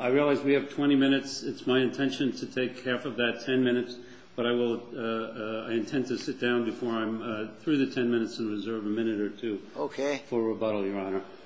I realize we have 20 minutes. It's my intention to take half of that 10 minutes, but I will sit down before him through the 10 minutes and reserve a minute or two for rebuttal.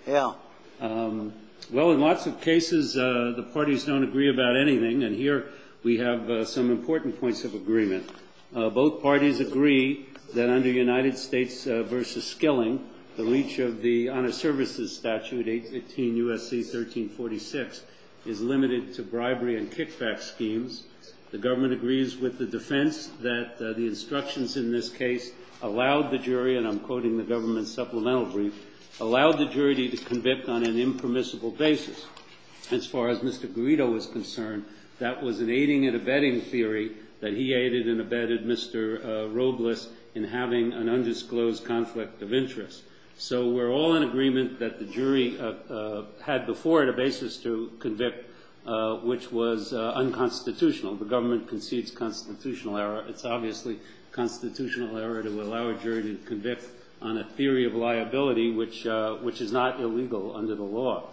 In lots of cases, the parties don't agree about anything, and here we have some important points of agreement. Both parties agree that under United States v. Skilling, the reach of the Honest Services Statute 815 U.S.C. 1346 is limited to bribery and kickback schemes. The government agrees with the defense that the instructions in this case allowed the jury, and I'm quoting the government's supplemental brief, allowed the jury to convict on an impermissible basis. As far as Mr. Garrido was concerned, that was an aiding and abetting theory that he aided and abetted Mr. Robles in having an undisclosed conflict of interest. So we're all in agreement that the jury had before the basis to convict, which was unconstitutional. The government concedes constitutional error. It's obviously constitutional error to allow the jury to convict on a theory of liability which is not illegal under the law.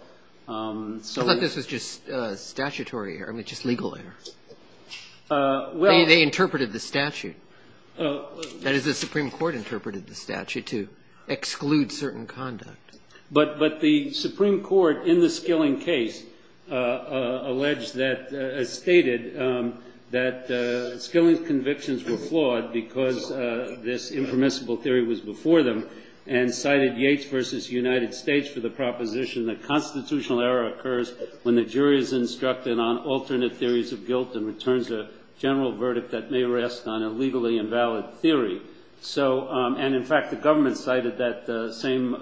I thought this was just statutory error, just legal error. They interpreted the statute. That is, the Supreme Court interpreted the statute to exclude certain conduct. But the Supreme Court, in the Skilling case, alleged that, stated that Skilling's convictions were flawed because this impermissible theory was before them, and cited Yates v. United States for the proposition that constitutional error occurs when the jury is instructed on alternate theories of guilt and returns a general verdict that may rest on a legally invalid theory. And, in fact, the government cited that same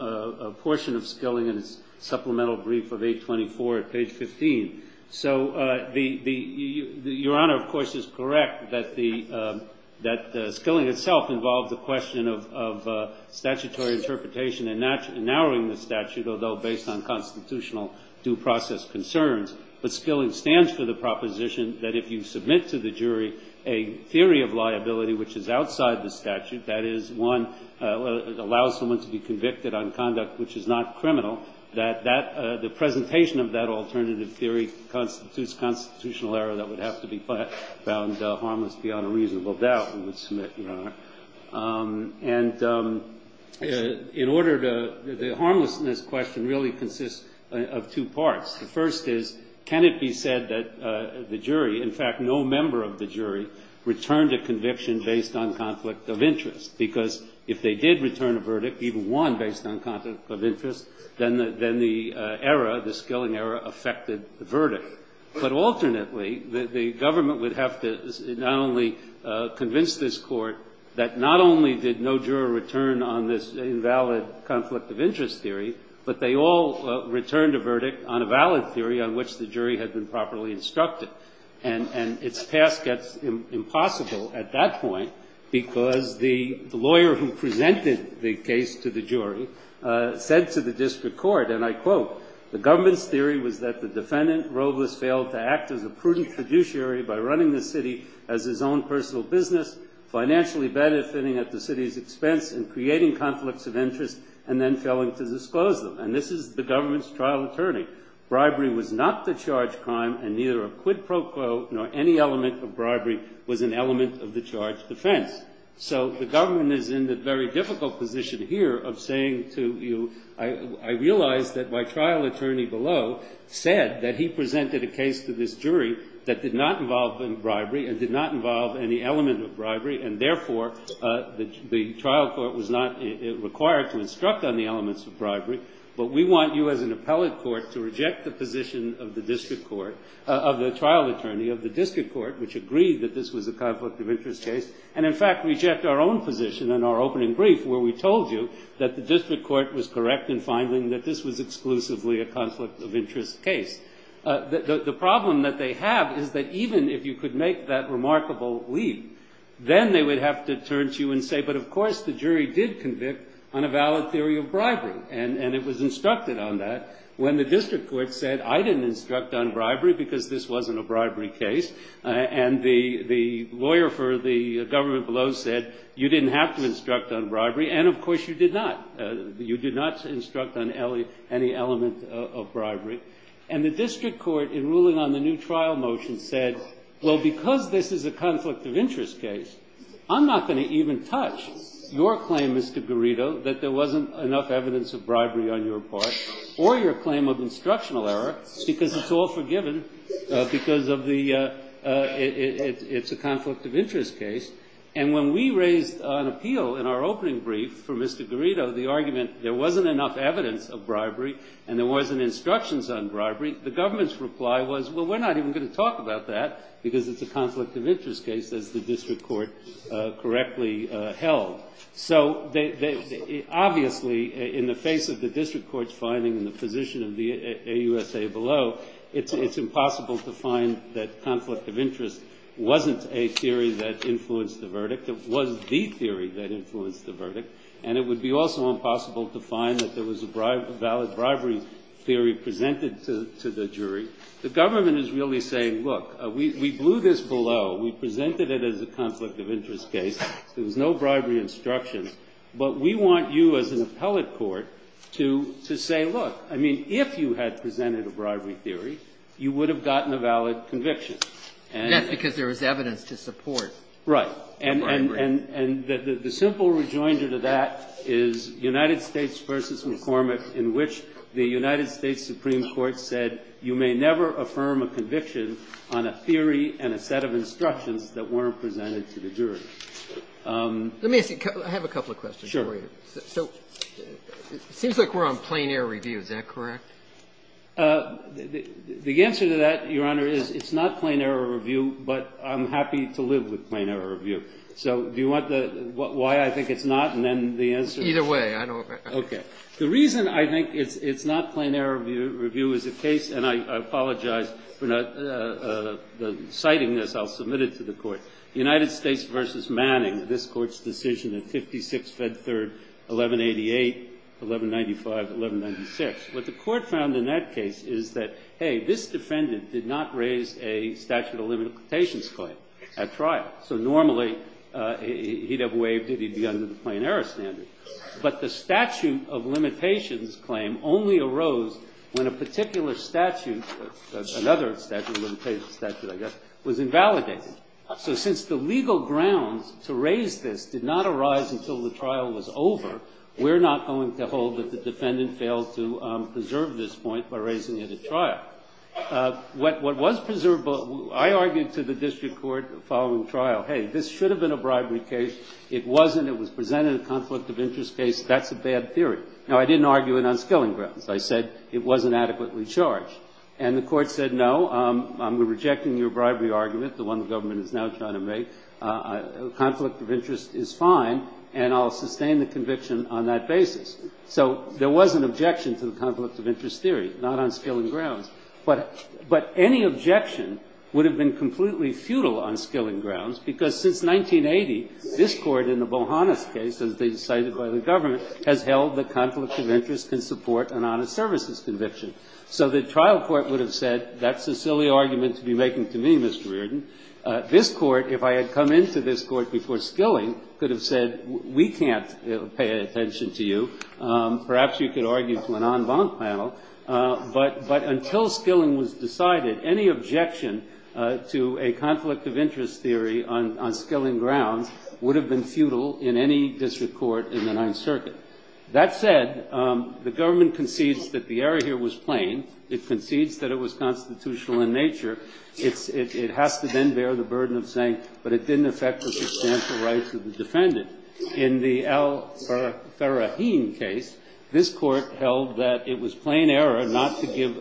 portion of Skilling in its supplemental brief of page 24 at page 15. So Your Honor, of course, is correct that Skilling itself involved the question of statutory interpretation and not narrowing the statute, although based on constitutional due process concerns. But Skilling stands for the proposition that if you submit to the jury a theory of liability which is outside the statute, that is, one, allows someone to be convicted on conduct which is not criminal, that that, the presentation of that alternative theory constitutes constitutional error that would have to be found harmless beyond a reasonable doubt in which to submit, Your Honor. And in order to, the harmlessness question really consists of two parts. The first is, can it be said that the jury, in fact, no member of the jury, returned a conviction based on conflict of interest? Because if they did return a verdict, even one based on conflict of interest, then the error, the Skilling error, affected the verdict. But alternately, the government would have to not only convince this Court that not only did no juror return on this invalid conflict of interest theory, but they all returned a verdict on a valid theory on which the jury had been properly instructed. And its task gets impossible at that point, because the lawyer who presented the case to the jury said to the district court, and I quote, The government's theory was that the defendant Robles failed to act as a prudent fiduciary by running the city as his own personal business, financially benefiting at the city's expense and creating conflicts of interest, and then failing to disclose them. And this is the government's trial attorney. Bribery was not the charged crime, and neither a quid pro quo nor any element of bribery was an element of the charged offense. So the government is in the very difficult position here of saying to you, I realize that my trial attorney below said that he presented a case to this jury that did not involve bribery and did not involve any element of bribery, and therefore, the trial court was not required to instruct on the elements of bribery. But we want you as an appellate court to reject the position of the district court, of the trial attorney of the district court, which agreed that this was a conflict of interest case, and in fact, reject our own position in our opening brief where we told you that the district court was correct in finding that this was exclusively a conflict of interest case. The problem that they have is that even if you could make that remarkable lead, then they would have to turn to you and say, but of course, the jury did convict on a valid theory of bribery, and it was instructed on that when the district court said, I didn't instruct on bribery because this wasn't a bribery case, and the lawyer for the government below said, you didn't have to instruct on bribery, and of course, you did not. You did not instruct on any element of bribery. And the district court, in ruling on the new trial motion, said, well, because this is a conflict of interest case, I'm not going to even touch your claim, Mr. Garrido, that there wasn't enough evidence of bribery on your part or your claim of instructional error because it's all forgiven because it's a conflict of interest case. And when we raised on appeal in our opening brief for Mr. Garrido the argument there wasn't enough evidence of bribery and there wasn't instructions on bribery, the government's reply was, well, we're not even going to talk about that because it's a conflict of interest case that the district court correctly held. So obviously, in the face of the district court's finding and the position of the AUSA below, it's impossible to find that conflict of interest wasn't a theory that influenced the verdict. It wasn't the theory that influenced the verdict. And it would be also impossible to find that there was a valid bribery theory presented to the jury. The government is really saying, look, we blew this below. We presented it as a conflict of interest case. There was no bribery instruction. But we want you as an appellate court to say, look, I mean, if you had presented a bribery theory, you would have gotten a valid conviction. And that's because there was evidence to support bribery. Right. And the simple rejoinder to that is United States v. McCormick in which the United States Supreme Court said you may never affirm a conviction on a theory and a set of instructions that weren't presented to the jury. Let me ask you, I have a couple of questions for you. Sure. So it seems like we're on plain error review. Is that correct? The answer to that, Your Honor, is it's not plain error review, but I'm happy to live with plain error review. So do you want the why I think it's not and then the answer? Either way. Okay. The reason I think it's not plain error review is the case, and I apologize for not citing this, I'll submit it to the court. The United States v. Manning, this court's decision in 56 Fed Third 1188, 1195, 1196. What the court found in that case is that, hey, this defendant did not raise a statute of limitations claim at trial. So normally he'd have waived it. He'd be under the plain error standard. But the statute of limitations claim only arose when a particular statute, another statute in the case statute, I guess, was invalidated. So since the legal grounds to raise this did not arise until the trial was over, we're not going to hold that the defendant failed to preserve this point by raising it at trial. What was preserved, I argued to the district court following trial, hey, this should have been a bribery case. It wasn't. It was presented as a conflict of interest case. That's a bad theory. Now, I didn't argue an unskilling grounds. I said it wasn't adequately charged. And the court said, no, I'm rejecting your bribery argument, the one the government is now trying to make. A conflict of interest is fine, and I'll sustain the conviction on that basis. So there was an objection to the conflict of interest theory, not unskilling grounds. But any objection would have been completely futile unskilling grounds, because since 1980, this court in the Bohanna case, as they decided by the government, has held the conflict of interest can support an honest services conviction. So the trial court would have said, that's a silly argument to be making to me, Mr. Reardon. This court, if I had come into this court before skilling, could have said, we can't pay attention to you. Perhaps you could argue for an en banc panel. But until skilling was decided, any objection to a conflict of interest theory on skilling grounds would have been futile in any district court in the Ninth Circuit. That said, the government concedes that the error here was plain. It concedes that it was constitutional in nature. It has to then bear the burden of saying, but it didn't affect the substantial rights of the defendant. In the Al-Farahim case, this court held that it was plain error not to give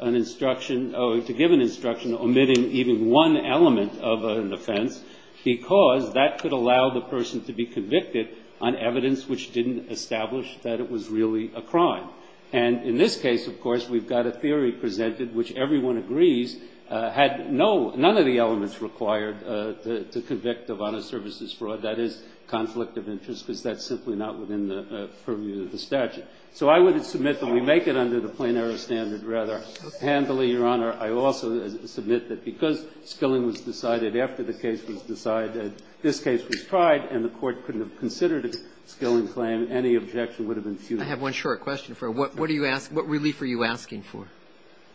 an instruction omitting even one element of an offense, because that could allow the person to be convicted on evidence which didn't establish that it was really a crime. And in this case, of course, we've got a theory presented which everyone agrees had none of the elements required to convict of honest services fraud. That is, conflict of interest. Is that simply not within the purview of the statute? So I would submit that we make it under the plain error standard rather handily, Your Honor. I also submit that because skilling was decided after the case was decided, this case was considered a skilling claim. Any objection would have been futile. I have one short question for you. What relief are you asking for?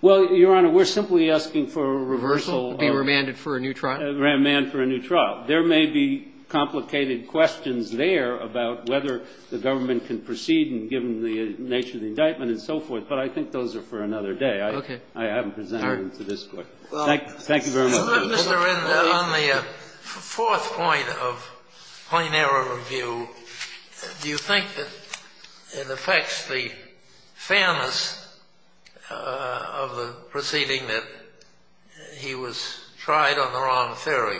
Well, Your Honor, we're simply asking for a reversal. To be remanded for a new trial? Remanded for a new trial. There may be complicated questions there about whether the government can proceed and give them the nature of the indictment and so forth, but I think those are for another day. Okay. I haven't presented them to this court. Thank you very much. On the fourth point of plain error review, do you think that it affects the fairness of the proceeding that he was tried on the wrong ferry?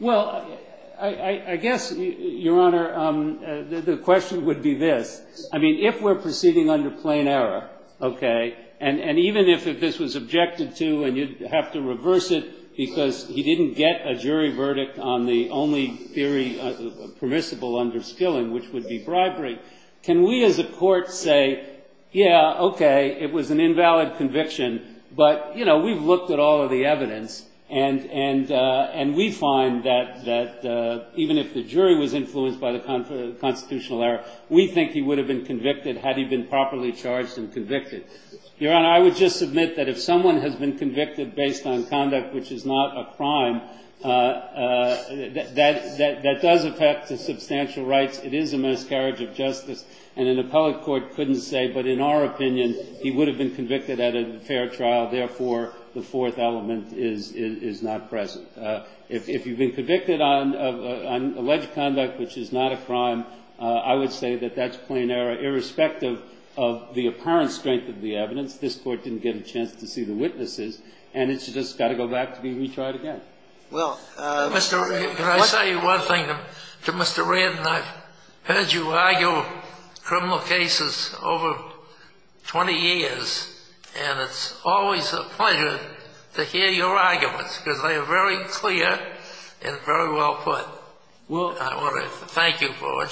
Well, I guess, Your Honor, the question would be this. I mean, if we're proceeding under plain error, okay, and even if this was objected to and we have to reverse it because he didn't get a jury verdict on the only theory permissible under skilling, which would be bribery, can we as a court say, yeah, okay, it was an invalid conviction, but, you know, we've looked at all of the evidence and we find that even if the jury was influenced by the constitutional error, we think he would have been convicted had he been properly charged and convicted. Your Honor, I would just admit that if someone has been convicted based on conduct which is not a crime, that does affect the substantial rights. It is a miscarriage of justice and an appellate court couldn't say, but in our opinion, he would have been convicted at a fair trial. Therefore, the fourth element is not present. If you've been convicted on alleged conduct which is not a crime, I would say that that's of the apparent strength of the evidence. This court didn't get a chance to see the witnesses, and it's just got to go back to being recharged again. Well, Mr. Redden, can I say one thing to Mr. Redden? I've heard you argue criminal cases over 20 years, and it's always a pleasure to hear your arguments because they are very clear and very well put. I want to thank you for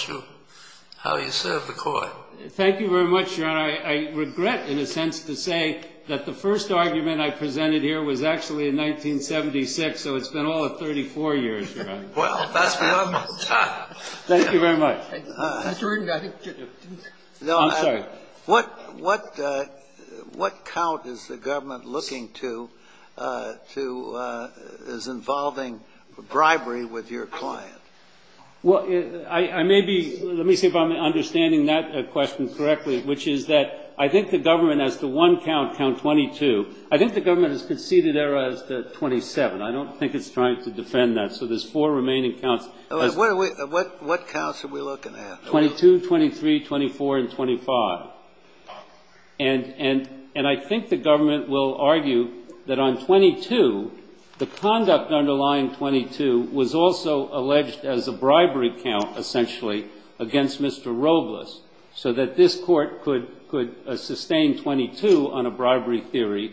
how you serve the court. Thank you very much, Your Honor. I regret, in a sense, to say that the first argument I presented here was actually in 1976, so it's been all of 34 years, Your Honor. Well, that's what I'm going to say. Thank you very much. I'm sorry. What count is the government looking to as involving bribery with your client? Well, let me see if I'm understanding that question correctly, which is that I think the government has the one count, count 22. I think the government has conceded error at 27. I don't think it's trying to defend that, so there's four remaining counts. What counts are we looking at? 22, 23, 24, and 25. And I think the government will argue that on 22, the conduct underlying 22 was also alleged as a bribery count, essentially, against Mr. Robles, so that this court could sustain 22 on a bribery theory,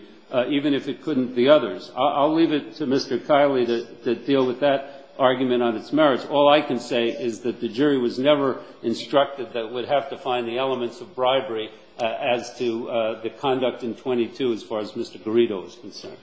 even if it couldn't the others. I'll leave it to Mr. Kiley to deal with that argument on its merits. All I can say is that the jury was never instructed that it would have to find the elements of bribery as to the conduct in 22, as far as Mr. Garrido is concerned.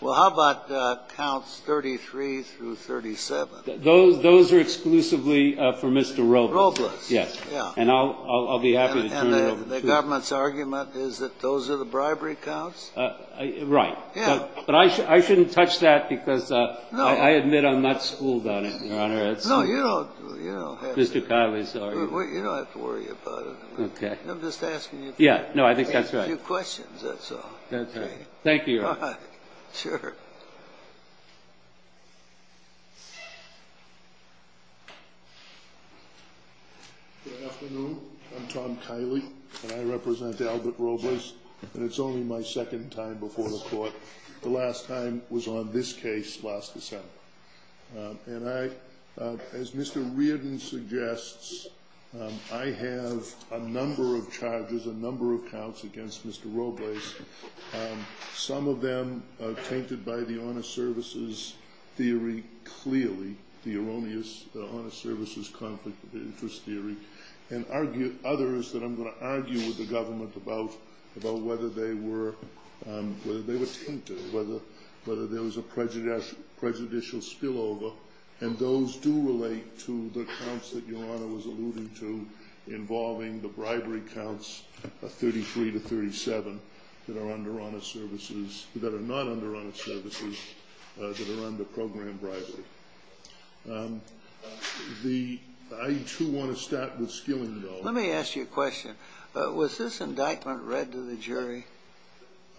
Well, how about counts 33 through 37? Those are exclusively for Mr. Robles. Robles. Yes. And I'll be happy to turn it over to you. And the government's argument is that those are the bribery counts? Right. But I shouldn't touch that, because I admit I'm not schooled on it, Your Honor. No, you don't have to. Mr. Kiley, sorry. You don't have to worry about it. I'm just asking you a few questions, that's all. Thank you. Sure. Good afternoon. I'm Tom Kiley, and I represent Albert Robles. And it's only my second time before the court. The last time was on this case, Flosca Center. And I, as Mr. Reardon suggests, I have a number of charges, a number of counts against Mr. Robles. Some of them are tainted by the honor services theory, clearly. The erroneous honor services conflict interest theory. And others that I'm going to argue with the government about whether they were tainted, whether there was a prejudicial spillover. And those do relate to the counts that Your Honor was alluding to involving the bribery counts of 33 to 37 that are under honor services, that are not under honor services, that are under program bribery. I do want to start with Skilling, though. Let me ask you a question. Was this indictment read to the jury?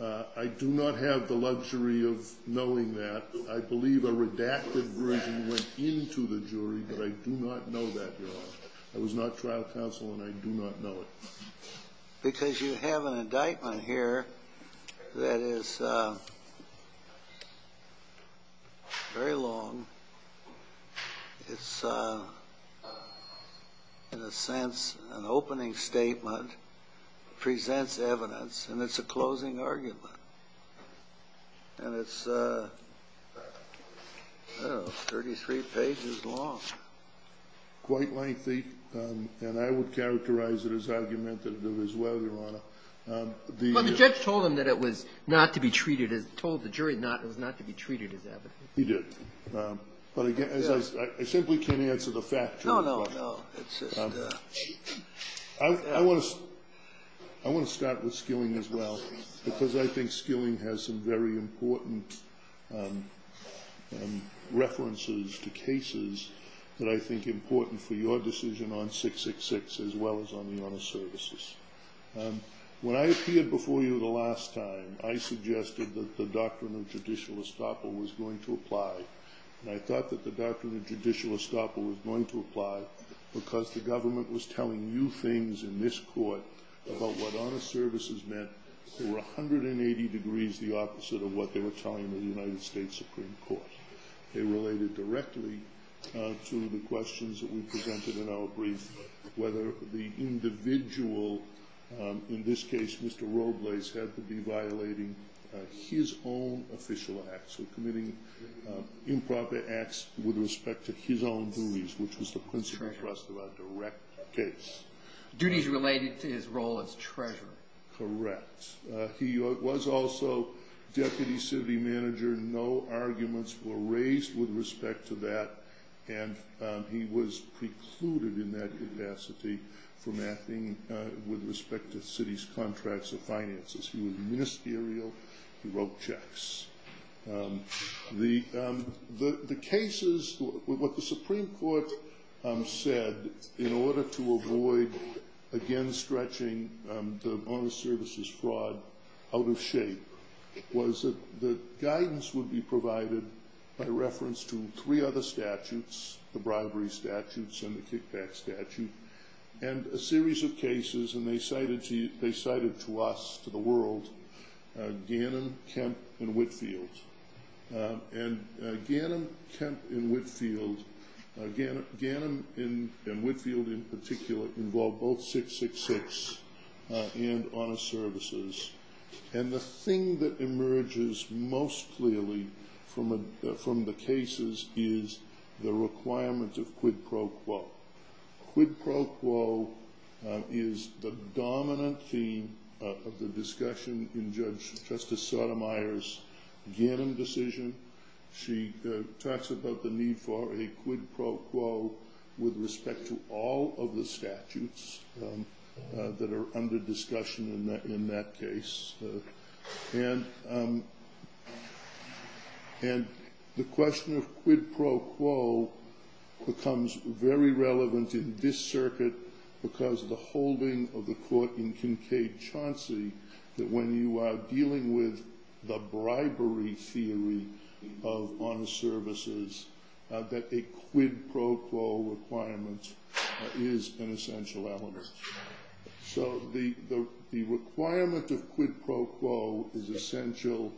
I do not have the luxury of knowing that. I believe a redacted version went into the jury, but I do not know that, Your Honor. I was not trial counsel, and I do not know it. Because you have an indictment here that is very long. It's, in a sense, an opening statement, presents evidence, and it's a closing argument. And it's 33 pages long. Quite likely, and I would characterize it as argumentative as well, Your Honor. But the judge told him that it was not to be treated, told the jury it was not to be treated as evidence. He did. I simply can't answer the fact. No, no, no. I want to start with Skilling as well, because I think Skilling has some very important references to cases that I think are important for your decision on 666 as well as on the honor services. When I appeared before you the last time, I suggested that the doctrine of judicial estoppel was going to apply. And I thought that the doctrine of judicial estoppel was going to apply because the government was telling you things in this court about what honor services meant that were 180 degrees the opposite of what they were telling the United States Supreme Court. They related directly to the questions that we presented in our brief, whether the individual, in this case Mr. Robles, had to be violating his own official acts, committing improper acts with respect to his own duties, which was the principal trust of a direct case. Duties related to his role as treasurer. Correct. He was also deputy city manager. No arguments were raised with respect to that. And he was precluded in that capacity from acting with respect to the city's contracts and finances. He was ministerial. He wrote checks. The cases, what the Supreme Court said in order to avoid again stretching the honor services fraud out of shape was that the guidance would be provided by reference to three other statutes, the bribery statutes and the kickback statute, and a series of cases. And they cited to us, to the world, Gannon, Kemp and Whitfield. And Gannon, Kemp and Whitfield, Gannon and Whitfield in particular, involved both 666 and honor services. And the thing that emerges most clearly from the cases is the requirement of quid pro quo. Quid pro quo is the dominant theme of the discussion in Judge Justice Sotomayor's Gannon decision. She talks about the need for a quid pro quo with respect to all of the statutes that are under discussion in that case. And the question of quid pro quo becomes very relevant in this circuit because of the holding of the court in Kincaid-Chauncey that when you are dealing with the bribery theory of honor services, that a quid pro quo requirement is an essential element. So the requirement of quid pro quo is essential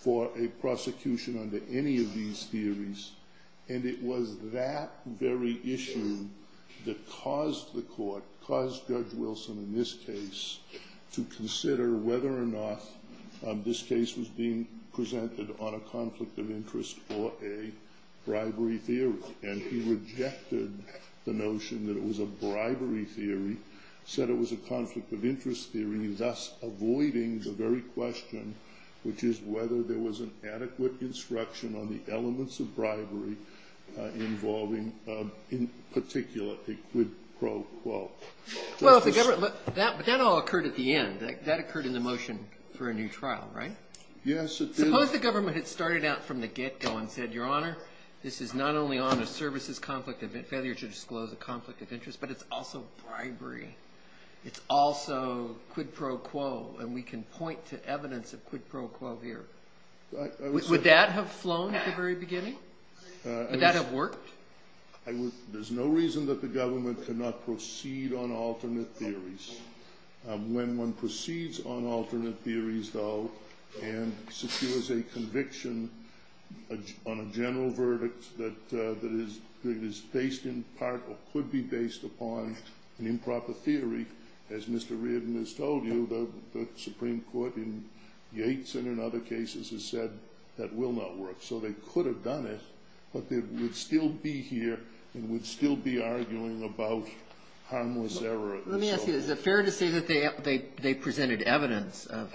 for a prosecution under any of these theories, and it was that very issue that caused the court, caused Judge Wilson in this case, to consider whether or not this case was being presented on a conflict of interest for a bribery theory. And he rejected the notion that it was a bribery theory, said it was a conflict of interest theory, thus avoiding the very question, which is whether there was an adequate instruction on the elements of bribery involving, in particular, a quid pro quo. Well, that all occurred at the end. That occurred in the motion for a new trial, right? Yes, it did. Suppose the government had started out from the get-go and said, Your Honor, this is not only honor services failure to disclose a conflict of interest, but it's also bribery. It's also quid pro quo, and we can point to evidence of quid pro quo here. Would that have flown at the very beginning? Would that have worked? There's no reason that the government cannot proceed on alternate theories. When one proceeds on alternate theories, though, and secures a conviction on a general verdict that is based in part or could be based upon an improper theory, as Mr. Reardon has told you, the Supreme Court in Yates and in other cases has said that will not work. So they could have done it, but they would still be here and would still be arguing about harmless error. Let me ask you, is it fair to say that they presented evidence of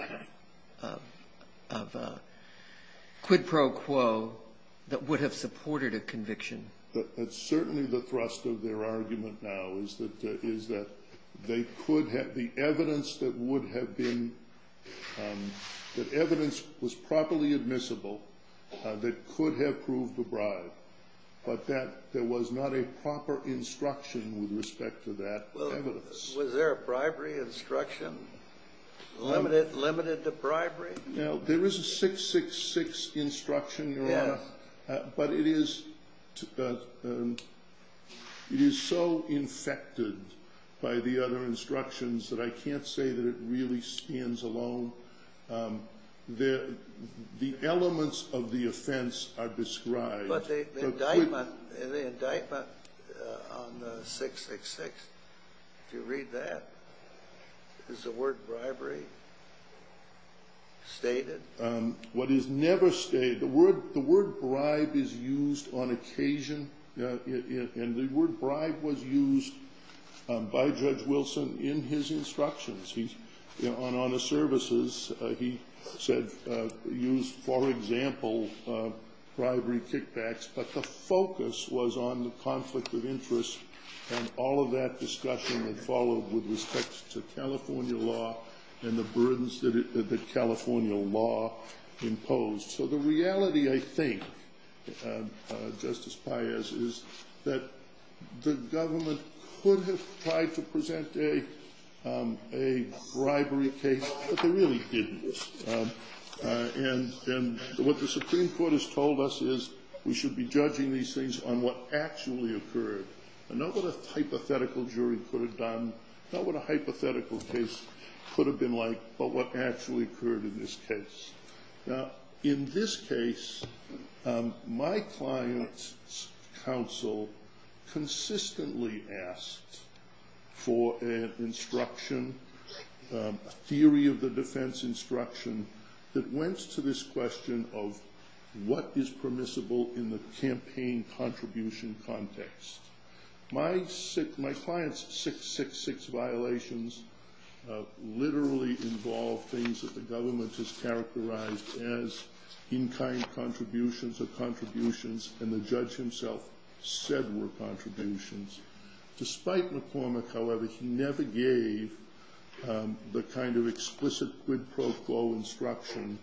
quid pro quo that would have supported a conviction? Certainly the thrust of their argument now is that the evidence was properly admissible that could have proved a bribe, but that there was not a proper instruction with respect to that evidence. Was there a bribery instruction? Limited to bribery? There is a 666 instruction there, but it is so infected by the other instructions that I can't say that it really stands alone. The elements of the offense are described. But the indictment on 666, do you read that? Is the word bribery stated? The word bribe is used on occasion, and the word bribe was used by Judge Wilson in his instructions. On the services, he used for example bribery kickbacks, but the focus was on the conflict of interest, and all of that discussion was followed with respect to California law and the burdens that California law imposed. So the reality I think, Justice Payes, is that the government could have tried to present a bribery case, but they really didn't. And what the Supreme Court has told us is we should be judging these things on what actually occurred, and not what a hypothetical jury could have done, not what a hypothetical case could have been like, but what actually occurred in this case. In this case, my client's counsel consistently asked for an instruction, a theory of the defense instruction, that went to this question of what is permissible in the campaign contribution context. My client's 666 violations literally involved things that the government has characterized as in-kind contributions or contributions, and the judge himself said were contributions. Despite McCormick, however, he never gave the kind of explicit quid pro quo instruction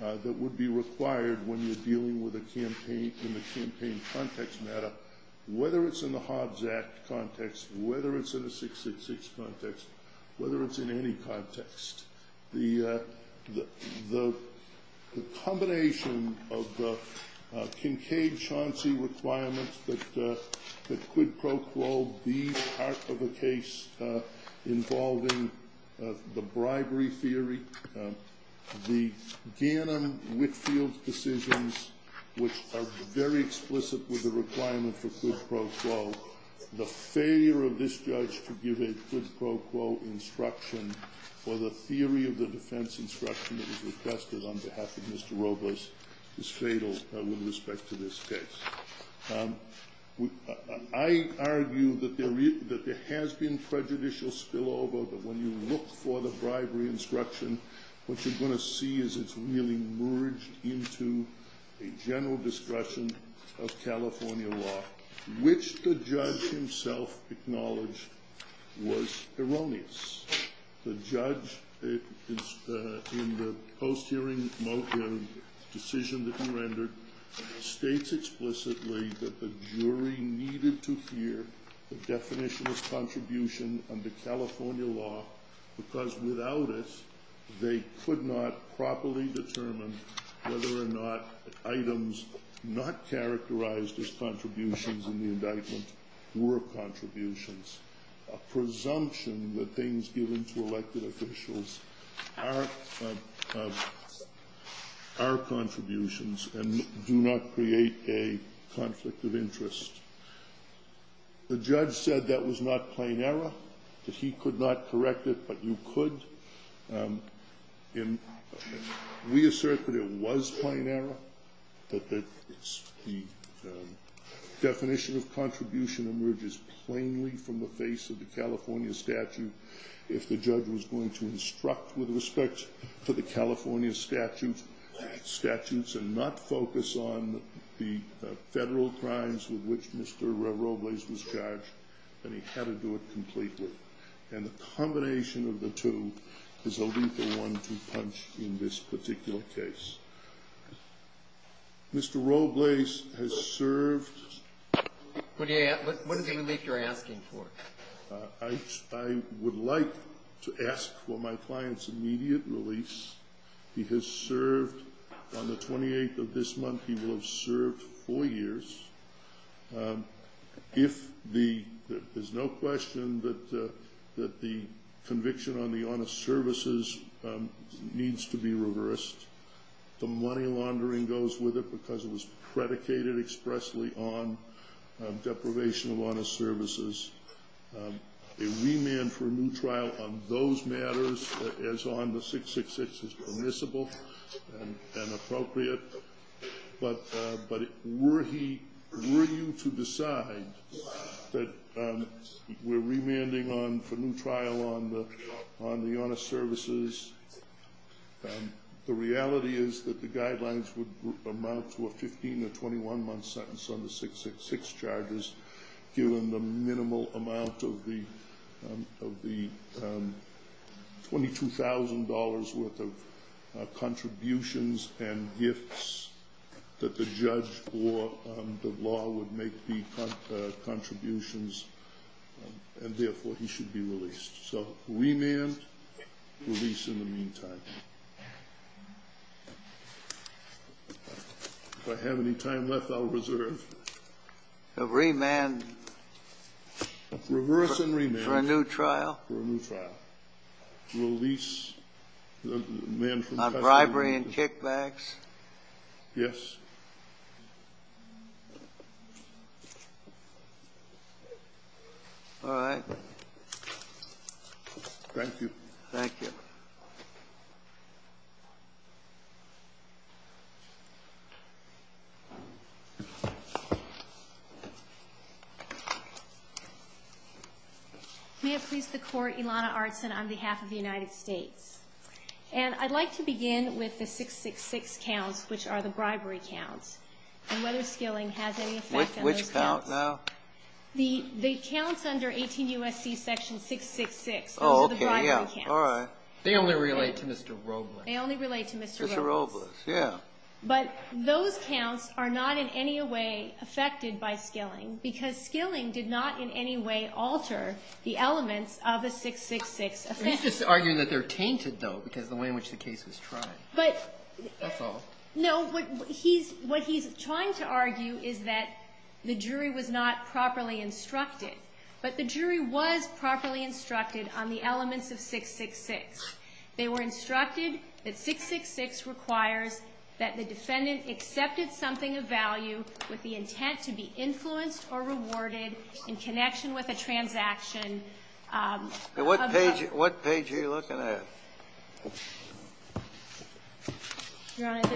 that would be required when you're dealing with a campaign in the campaign context matter, whether it's in the Hobbs Act context, whether it's in the 666 context, whether it's in any context. The combination of the Kincaid-Chauncey requirements that quid pro quo be part of a case involving the bribery theory, the Gannon-Whitfield decisions, which are very explicit with the requirement for quid pro quo, the failure of this judge to give a quid pro quo instruction for the theory of the defense instruction that was requested on behalf of Mr. Robles is fatal with respect to this case. I argue that there has been prejudicial spillover, but when you look for the bribery instruction, what you're going to see is it's really merged into a general discussion of California law, which the judge himself acknowledged was erroneous. The judge, in the post-hearing motive decision that you rendered, states explicitly that the jury needed to hear the definition of contribution under California law, because without it, they could not properly determine whether or not items not characterized as contributions in the indictment were contributions. A presumption that things given to elected officials are contributions and do not create a conflict of interest. The judge said that was not plain error, that he could not correct it, but you could. We assert that it was plain error, but the definition of contribution emerges plainly from the face of the California statute. If the judge was going to instruct with respect to the California statutes and not focus on the federal crimes with which Mr. Robles was charged, then he had to do it completely. The combination of the two is what we've been wanting to punch in this particular case. Mr. Robles has served... What is it that you're asking for? I would like to ask for my client's immediate release. He has served on the 28th of this month. He will have served four years. There's no question that the conviction on the honest services needs to be reversed. The money laundering goes with it because it was predicated expressly on deprivation of honest services. A remand for a new trial on those matters as on the 666 is permissible and appropriate. Were he willing to decide that we're remanding on the new trial on the honest services, the reality is that the guidelines would amount to a 15 to 21-month sentence on the 666 charges, given the minimal amount of the $22,000 worth of contributions and gifts that the judge or the law would make the contributions, and therefore he should be released. So remand, release in the meantime. If I have any time left, I'll reserve. A remand... Reverse and remand. For a new trial? For a new trial. On bribery and kickbacks? Yes. All right. Thank you. Thank you. May it please the Court, Ilana Artson on behalf of the United States. And I'd like to begin with the 666 counts, which are the bribery counts. And whether stealing has any effect on those counts. Which count, now? The counts under 18 U.S.C. section 666. Oh, okay. The bribery counts. All right. They only relate to Mr. Robles. They only relate to Mr. Robles. Mr. Robles, yeah. But those counts are not in any way affected by stealing, because stealing did not in any way alter the elements of a 666 offense. He's just arguing that they're tainted, though, because of the way in which the case was tried. But... That's all. No, what he's trying to argue is that the jury was not properly instructed. But the jury was properly instructed on the elements of 666. They were instructed that 666 requires that the defendant accepted something of value with the intent to be influenced or rewarded in connection with a transaction. What page are you looking at? Your Honor,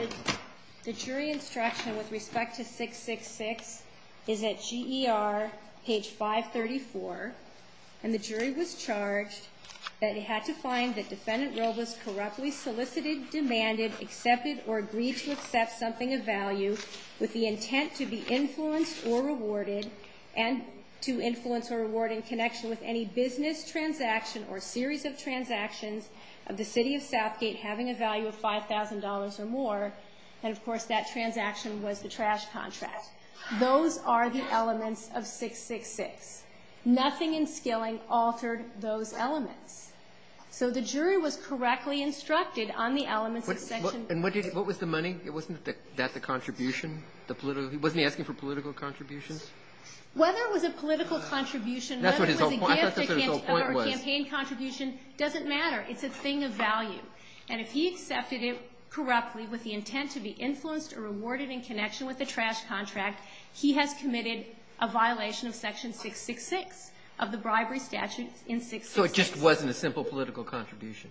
the jury instruction with respect to 666 is at GER, page 534. And the jury was charged that it had to find that defendant Robles corruptly solicited, demanded, accepted, or agreed to accept something of value with the intent to be influenced or rewarded, and to influence or reward in connection with any business transaction or series of transactions of the city of Southgate having a value of $5,000 or more. And, of course, that transaction was the trash contract. Those are the elements of 666. Nothing in stealing altered those elements. So the jury was correctly instructed on the elements of 666. And what was the money? Wasn't that the contribution? Wasn't he asking for political contributions? Whether it was a political contribution, whether it was a campaign contribution, doesn't matter. It's a thing of value. And if he accepted it corruptly with the intent to be influenced or rewarded in connection with the trash contract, he has committed a violation of section 666 of the bribery statute in 666. So it just wasn't a simple political contribution?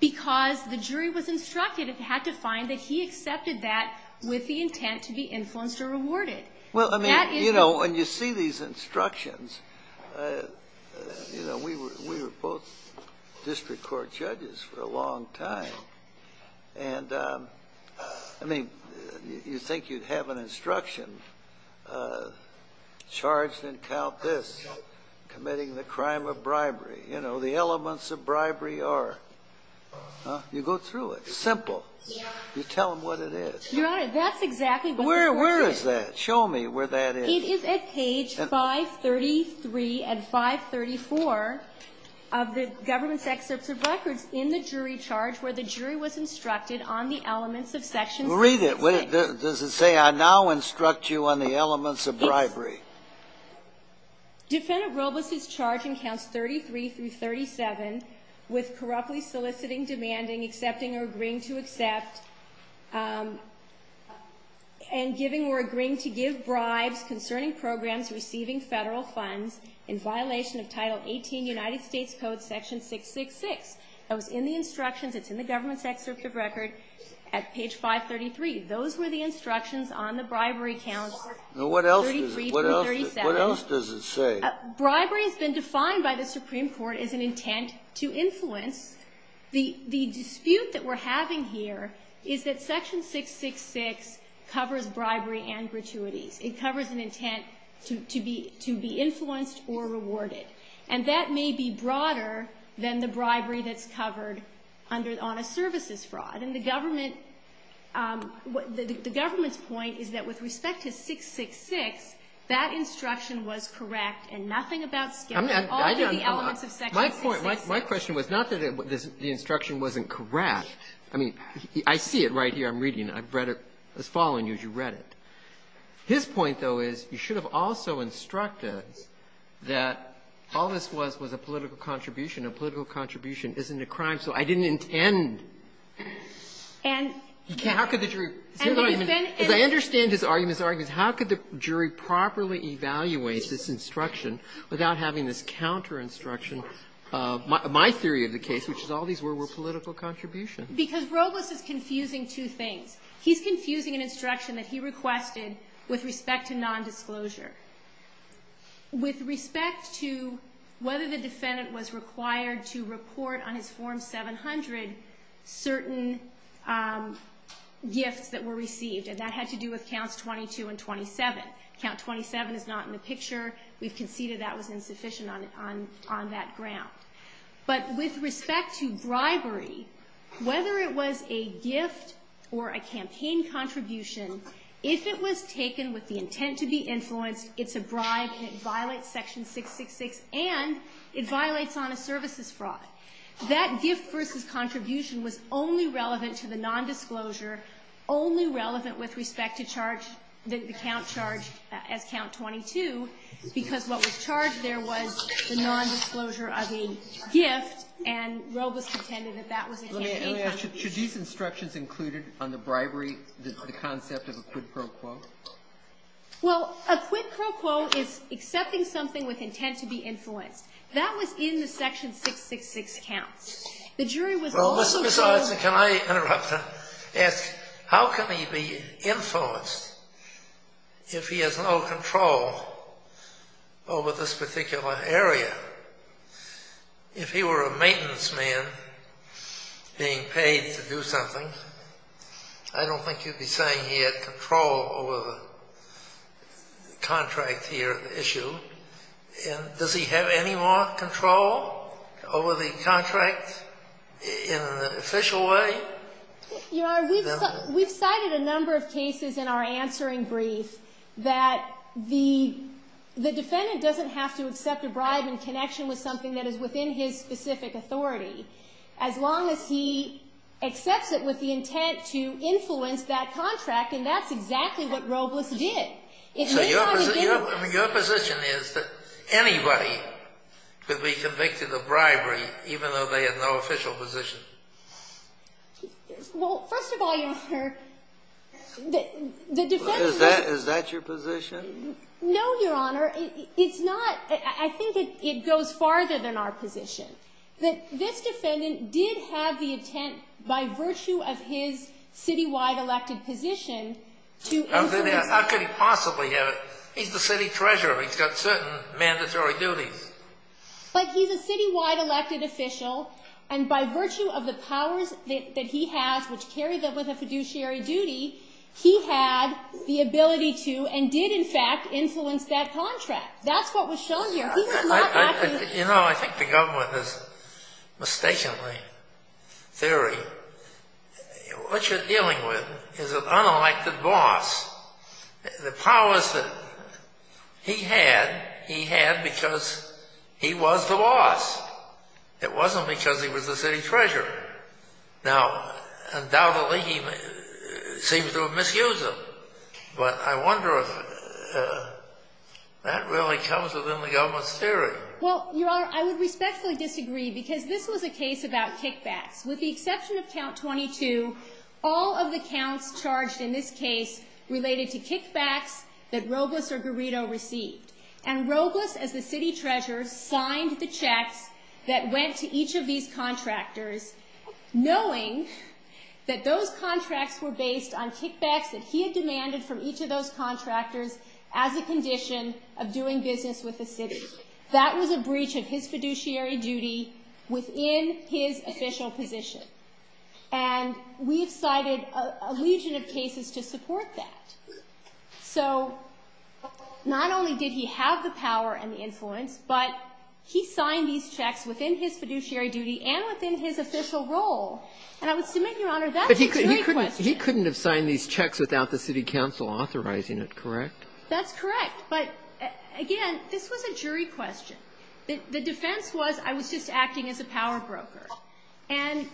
Because the jury was instructed and had to find that he accepted that with the intent to be influenced or rewarded. Well, I mean, you know, when you see these instructions, you know, we were both district court judges for a long time. And, I mean, you think you'd have an instruction charged and count this, committing the crime of bribery. You know, the elements of bribery are, you go through it. It's simple. You tell them what it is. That's exactly what it is. Where is that? Show me where that is. It is at page 533 and 534 of the government's excerpt of records in the jury charge where the jury was instructed on the elements of section 666. Read it. Does it say, I now instruct you on the elements of bribery? Defendant Robles is charged in counts 33 through 37 with corruptly soliciting, demanding, accepting, or agreeing to accept, and giving or agreeing to give bribes concerning programs receiving federal funds in violation of Title 18 United States Code section 666. So it's in the instructions. It's in the government's excerpt of records at page 533. Those were the instructions on the bribery challenge. What else does it say? Bribery has been defined by the Supreme Court as an intent to influence. The dispute that we're having here is that section 666 covers bribery and gratuity. It covers an intent to be influenced or rewarded, and that may be broader than the bribery that's covered on a services fraud. But in the government, the government's point is that with respect to 666, that instruction was correct and nothing about scamming. My question was not that the instruction wasn't correct. I mean, I see it right here. I'm reading it. I've read it. I was following you as you read it. His point, though, is you should have also instructed that all this was was a political contribution, and a political contribution isn't a crime. So I didn't intend. If I understand his argument, how could the jury properly evaluate this instruction without having this counter-instruction? My theory of the case, which is all these were political contributions. Because Robles is confusing two things. He's confusing an instruction that he requested with respect to nondisclosure. With respect to whether the defendant was required to report on his Form 700 certain gifts that were received, and that had to do with Counts 22 and 27. Count 27 is not in the picture. We've conceded that was insufficient on that ground. But with respect to bribery, whether it was a gift or a campaign contribution, if it was taken with the intent to be influenced, it's a bribe and it violates Section 666, and it violates honest services fraud. That gift versus contribution was only relevant to the nondisclosure, only relevant with respect to the count charged at Count 22. Because what was charged there was the nondisclosure of a gift, and Robles pretended that that was a campaign contribution. Should these instructions include on the bribery the concept of a quid pro quo? Well, a quid pro quo is accepting something with intent to be influenced. That was in the Section 666 Counts. The jury was also— Well, can I interrupt? How can he be influenced if he has no control over this particular area? If he were a maintenance man being paid to do something, I don't think you'd be saying he had control over the contract here at the issue. Does he have any more control over the contract in an official way? Your Honor, we've cited a number of cases in our answering brief that the defendant doesn't have to accept a bribe in connection with something that is within his specific authority, as long as he accepts it with the intent to influence that contract, and that's exactly what Robles did. So your position is that anybody could be convicted of bribery even though they had no official position? Well, first of all, Your Honor, the defendant— Is that your position? No, Your Honor. It's not. I think it goes farther than our position. This defendant did have the intent by virtue of his citywide elected position to— How could he possibly have it? He's the city treasurer. He's got certain mandatory duties. But he's a citywide elected official, and by virtue of the powers that he has, which carries over the fiduciary duty, he had the ability to and did, in fact, influence that contract. That's what was shown here. You know, I think the government has mistaken the theory. What you're dealing with is an unelected boss. The powers that he had, he had because he was the boss. It wasn't because he was the city treasurer. Now, undoubtedly, he seems to have misused them, but I wonder if that really comes within the government's theory. Well, Your Honor, I would respectfully disagree because this was a case about kickbacks. With the exception of Count 22, all of the counts charged in this case related to kickbacks that Robles or Garrido received. And Robles, as the city treasurer, signed the check that went to each of these contractors, knowing that those contracts were based on kickbacks that he had demanded from each of those contractors as a condition of doing business with the city. That was a breach of his fiduciary duty within his official position. And we've cited a legion of cases to support that. So, not only did he have the power and the influence, but he signed these checks within his fiduciary duty and within his official role. And I would submit, Your Honor, that's a jury question. But he couldn't have signed these checks without the city council authorizing it, correct? That's correct. But, again, this was a jury question. The defense was I was just acting as a power broker. And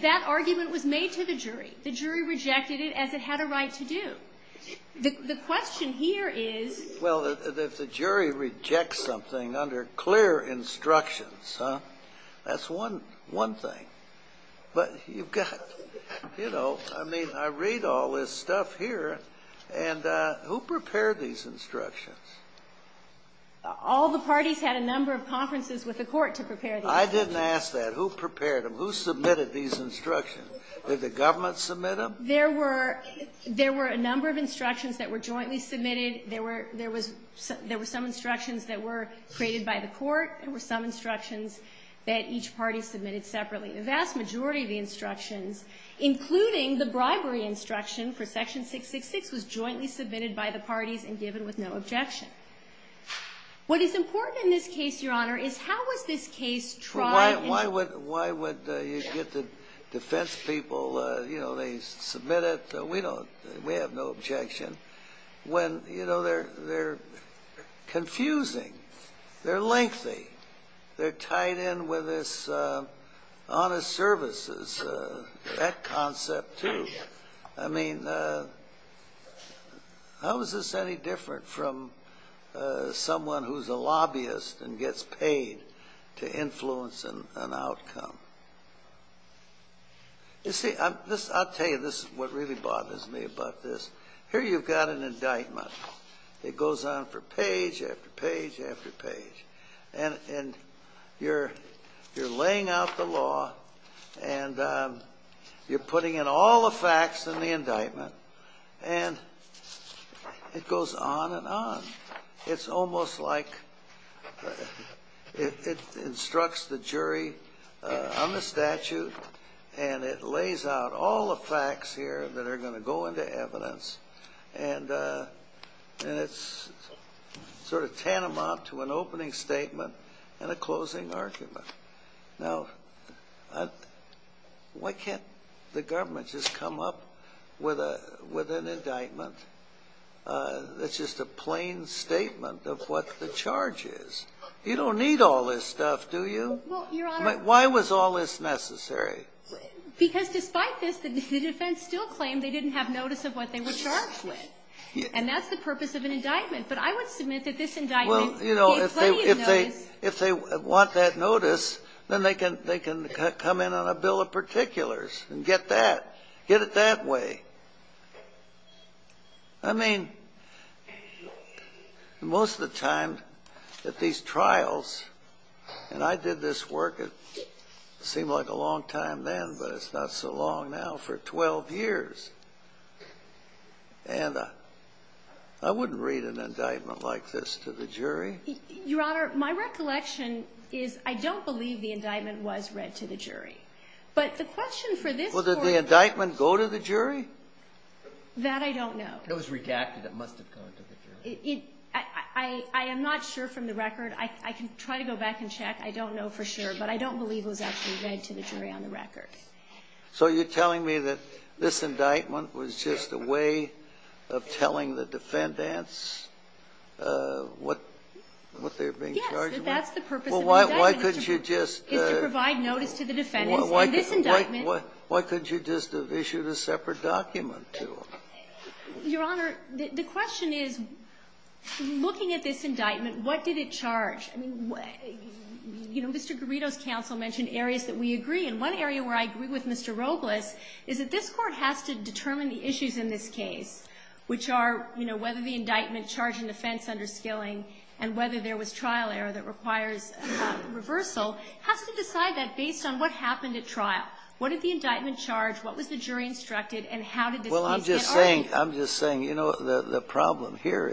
that argument was made to the jury. The jury rejected it as it had a right to do. The question here is… Well, if the jury rejects something under clear instructions, that's one thing. But you've got, you know, I mean, I read all this stuff here. And who prepared these instructions? All the parties had a number of conferences with the court to prepare these instructions. I didn't ask that. Who prepared them? Who submitted these instructions? Did the government submit them? There were a number of instructions that were jointly submitted. There were some instructions that were created by the court. There were some instructions that each party submitted separately. The vast majority of the instructions, including the bribery instruction for Section 666, was jointly submitted by the parties and given with no objection. What is important in this case, Your Honor, is how would this case try… Why would you get the defense people, you know, they submit it. We have no objection. When, you know, they're confusing, they're lengthy, they're tied in with this honest services, that concept too. I mean, how is this any different from someone who's a lobbyist and gets paid to influence an outcome? You see, I'll tell you, this is what really bothers me about this. Here you've got an indictment. It goes on for page after page after page. And you're laying out the law, and you're putting in all the facts in the indictment, and it goes on and on. It's almost like it instructs the jury on the statute, and it lays out all the facts here that are going to go into evidence. And it's sort of tantamount to an opening statement and a closing argument. Now, why can't the government just come up with an indictment that's just a plain statement of what the charge is? You don't need all this stuff, do you? Why was all this necessary? Because despite this, the defense still claimed they didn't have notice of what they were charged with. And that's the purpose of an indictment. But I would submit that this indictment can't tell you that. Well, you know, if they want that notice, then they can come in on a bill of particulars and get that, get it that way. I mean, most of the time at these trials, and I did this work, it seemed like a long time then, but it's not so long now, for 12 years. And I wouldn't read an indictment like this to the jury. Your Honor, my recollection is I don't believe the indictment was read to the jury. Well, did the indictment go to the jury? That I don't know. It was redacted a month ago. I am not sure from the record. I can try to go back and check. I don't know for sure, but I don't believe it was actually read to the jury on the record. So you're telling me that this indictment was just a way of telling the defendants what they were being charged with? Yes, but that's the purpose of an indictment. It's to provide notice to the defendants. Why couldn't you just have issued a separate document to them? Your Honor, the question is, looking at this indictment, what did it charge? You know, Mr. Garrido's counsel mentioned areas that we agree in. One area where I agree with Mr. Robles is that this court has to determine the issues in this case, which are whether the indictment charged an offense under skilling, and whether there was trial error that requires reversal. It has to decide that based on what happened at trial. What did the indictment charge? What was the jury instructed? And how did the jury— Well, I'm just saying, you know, the problem here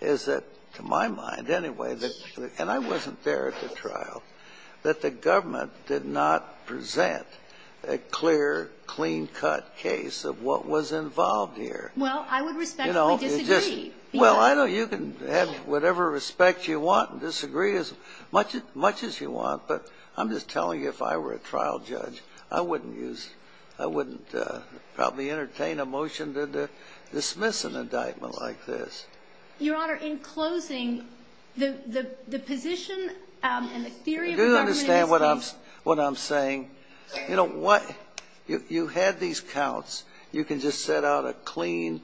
is that, to my mind anyway, and I wasn't there at the trial, that the government did not present a clear, clean-cut case of what was involved here. Well, I would respectfully disagree. Well, I know you can have whatever respect you want and disagree as much as you want, but I'm just telling you, if I were a trial judge, I wouldn't use—I wouldn't probably entertain a motion to dismiss an indictment like this. Your Honor, in closing, the position and the theory of the government— You do understand what I'm saying. You know, you had these counts. You can just set out a clean,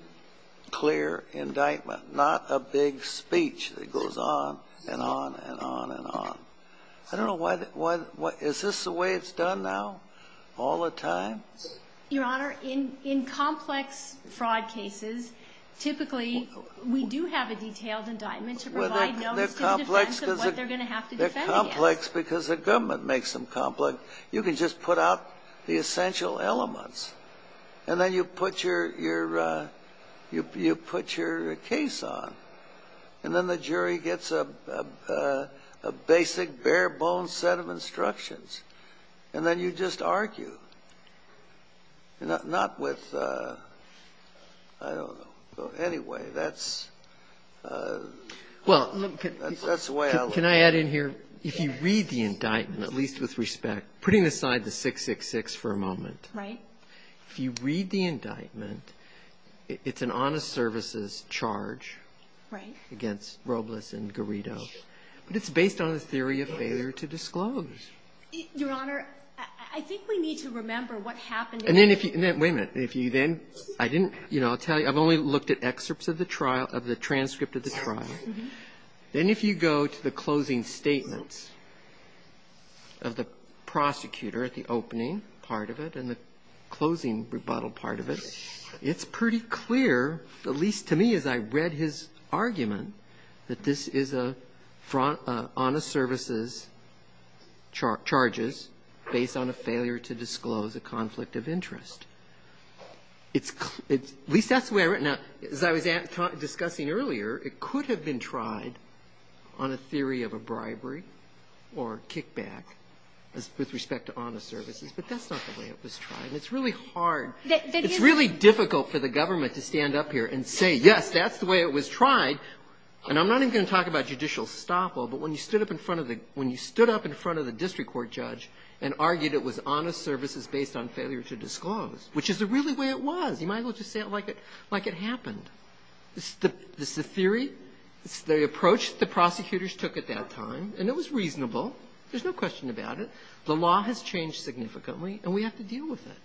clear indictment, not a big speech that goes on and on and on and on. I don't know why—is this the way it's done now, all the time? Your Honor, in complex fraud cases, typically we do have a detailed indictment to provide notice to the defense of what they're going to have to defend against. They're complex because the government makes them complex. You can just put out the essential elements, and then you put your case on, and then the jury gets a basic, bare-bones set of instructions, and then you just argue. Not with—I don't know. Anyway, that's the way I look at it. Can I add in here, if you read the indictment, at least with respect, putting aside the 666 for a moment, if you read the indictment, it's an honest services charge against Robles and Garrido. It's based on a theory of failure to disclose. Your Honor, I think we need to remember what happened— Wait a minute. I'll tell you, I've only looked at excerpts of the transcript of the trial. Then if you go to the closing statements of the prosecutor at the opening part of it, and the closing rebuttal part of it, it's pretty clear, at least to me as I read his argument, that this is an honest services charges based on a failure to disclose a conflict of interest. At least that's the way I read it. As I was discussing earlier, it could have been tried on a theory of a bribery or kickback with respect to honest services, but that's not the way it was tried. It's really hard. It's really difficult for the government to stand up here and say, yes, that's the way it was tried. And I'm not even going to talk about judicial stop all, but when you stood up in front of the district court judge and argued it was honest services based on failure to disclose, which is really the way it was, you might as well just say it like it happened. It's the theory. It's the approach the prosecutors took at that time, and it was reasonable. There's no question about it. The law has changed significantly, and we have to deal with it.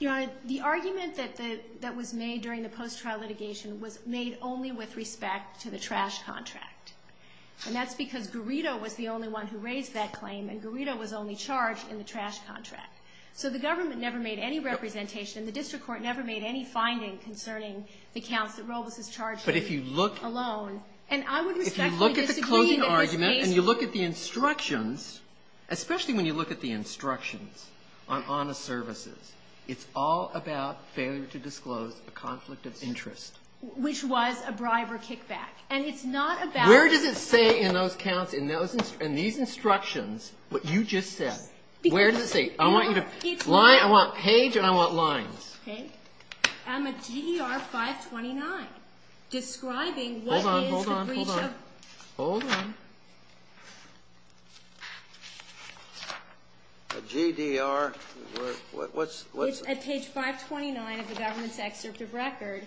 Your Honor, the argument that was made during the post-trial litigation was made only with respect to the trash contract, and that's because Garrido was the only one who raised that claim, and Garrido was only charged in the trash contract. So the government never made any representation, and the district court never made any findings concerning the counts that Robles was charged with alone. But if you look at the closing argument and you look at the instructions, especially when you look at the instructions on honest services, it's all about failure to disclose a conflict of interest. Which was a bribe or kickback, and it's not about... Where did it say in those counts, in these instructions, what you just said? Where did it say? I want you to line. I want page and I want line. Okay. On the GDR 529, describing what is the breach of... Hold on, hold on, hold on. Hold on. The GDR, what's... It's at page 529 of the government's executive record,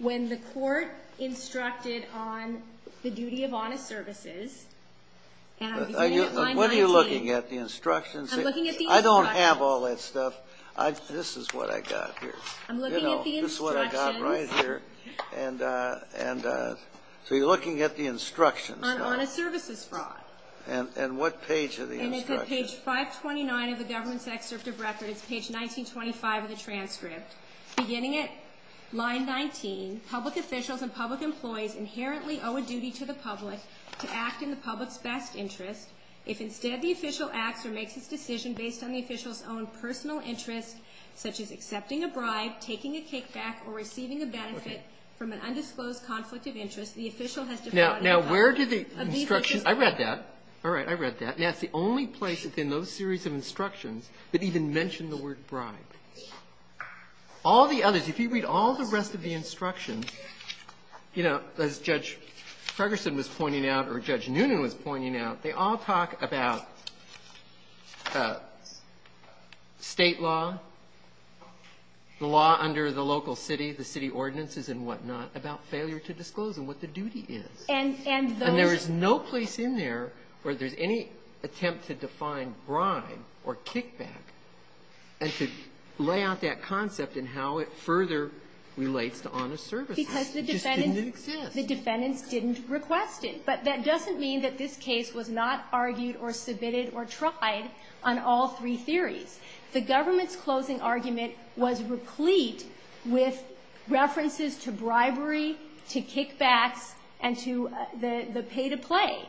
when the court instructed on the duty of honest services... What are you looking at? The instructions? I'm looking at the instructions. I don't have all that stuff. This is what I got here. I'm looking at the instructions. You know, this is what I got right here. And so you're looking at the instructions. Honest services fraud. And what page are the instructions? And it's at page 529 of the government's executive record. It's page 1925 of the transcript. Beginning at line 19, public officials and public employees inherently owe a duty to the public to act in the public's best interest. If instead the official acts or makes a decision based on the official's own personal interest, such as accepting a bribe, taking a kickback, or receiving a benefit from an undisclosed conflict of interest, the official has to... Now, where do the instructions... I read that. All right, I read that. Now, it's the only place within those series of instructions that even mention the word bribe. All the others, if you read all the rest of the instructions, you know, as Judge Ferguson was pointing out or Judge Noonan was pointing out, they all talk about state law, the law under the local city, the city ordinances and whatnot, about failure to disclose and what the duty is. And there is no place in there where there's any attempt to define bribe or kickback and to lay out that concept and how it further relates to honest services. Because the defendants didn't request it. But that doesn't mean that this case was not argued or submitted or tried on all three theories. The government's closing argument was replete with references to bribery, to kickback, and to the pay to play.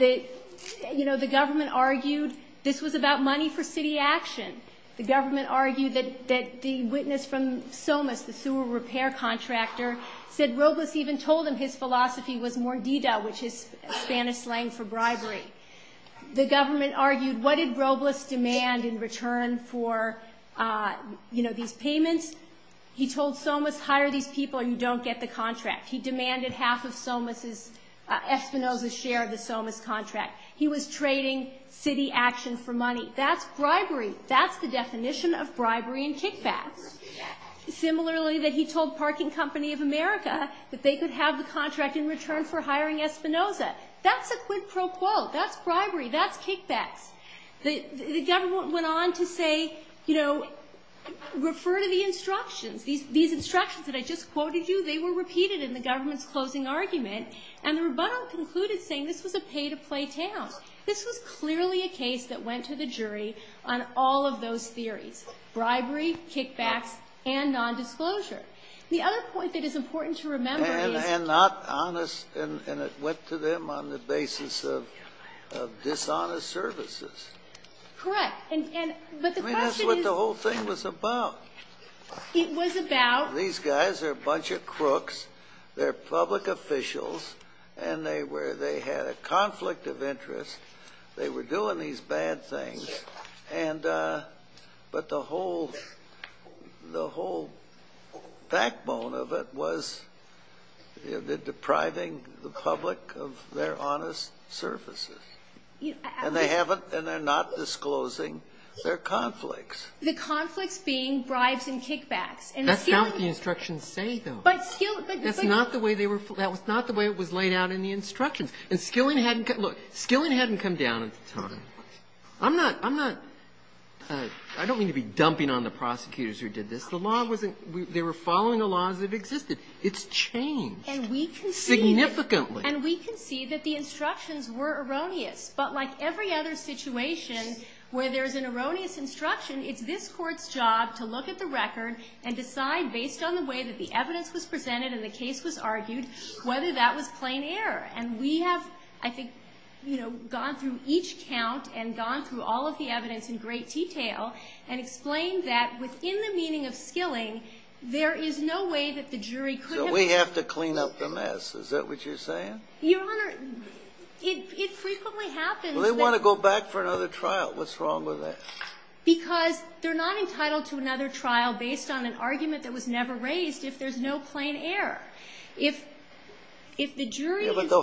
You know, the government argued this was about money for city action. The government argued that the witness from Somos, the sewer repair contractor, said Robles even told him his philosophy was Mordida, which is Spanish slang for bribery. The government argued, what did Robles demand in return for, you know, these payments? He told Somos, hire these people and you don't get the contract. He demanded half of Somos' Espinosa share of the Somos contract. He was trading city action for money. That's bribery. That's the definition of bribery and kickback. Similarly, that he told Parking Company of America that they could have the contract in return for hiring Espinosa. That's the quid pro quo. That's bribery. That's kickback. The government went on to say, you know, refer to the instructions. These instructions that I just quoted you, they were repeated in the government's closing argument. And the rebuttal concluded saying this was a pay to play tale. This was clearly a case that went to the jury on all of those theories, bribery, kickback, and nondisclosure. The other point that is important to remember is. And not honest, and it went to them on the basis of dishonest services. Correct. I mean, that's what the whole thing was about. These guys are a bunch of crooks. They're public officials. And they had a conflict of interest. They were doing these bad things. But the whole backbone of it was depriving the public of their honest services. And they're not disclosing their conflicts. The conflicts being bribes and kickbacks. That's not what the instructions say, though. That's not the way it was laid out in the instructions. And Skilling hadn't come down at the time. I don't mean to be dumping on the prosecutors who did this. They were following the laws that existed. It's changed. Significantly. And we can see that the instructions were erroneous. But like every other situation where there's an erroneous instruction, it's this court's job to look at the record and decide, based on the way that the evidence was presented and the case was argued, whether that was plain error. And we have, I think, gone through each count and gone through all of the evidence in great detail and explained that, within the meaning of Skilling, there is no way that the jury could have ---- So we have to clean up the mess. Is that what you're saying? Your Honor, it frequently happens that ---- They want to go back for another trial. What's wrong with that? Because they're not entitled to another trial based on an argument that was never raised if there's no plain error. If the jury ---- But the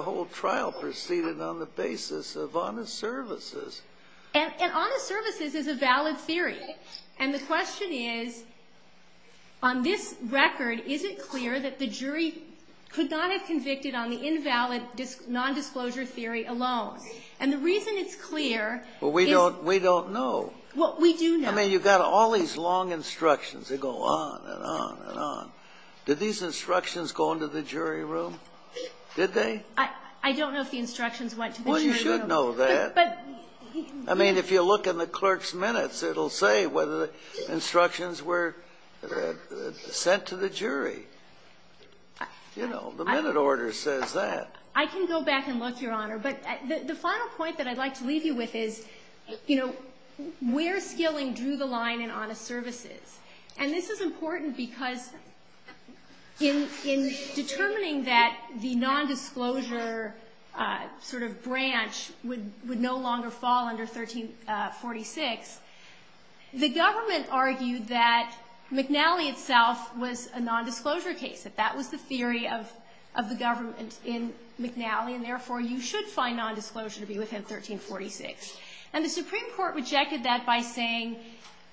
whole trial proceeded on the basis of honest services. And honest services is a valid theory. And the question is, on this record, is it clear that the jury could not have convicted on the invalid nondisclosure theory alone? And the reason it's clear is ---- Well, we don't know. Well, we do know. I mean, you've got all these long instructions. They go on and on and on. Did these instructions go into the jury room? Did they? I don't know if the instructions went to the jury room. Well, you should know that. I mean, if you look in the clerk's minutes, it'll say whether the instructions were sent to the jury. You know, the minute order says that. I can go back and look, Your Honor. But the final point that I'd like to leave you with is, you know, where Skilling drew the line in honest services. And this is important because in determining that the nondisclosure sort of branch would no longer fall under 1346, the government argued that McNally itself was a nondisclosure case, that that was the theory of the government in McNally, and therefore you should find nondisclosure to be within 1346. And the Supreme Court rejected that by saying,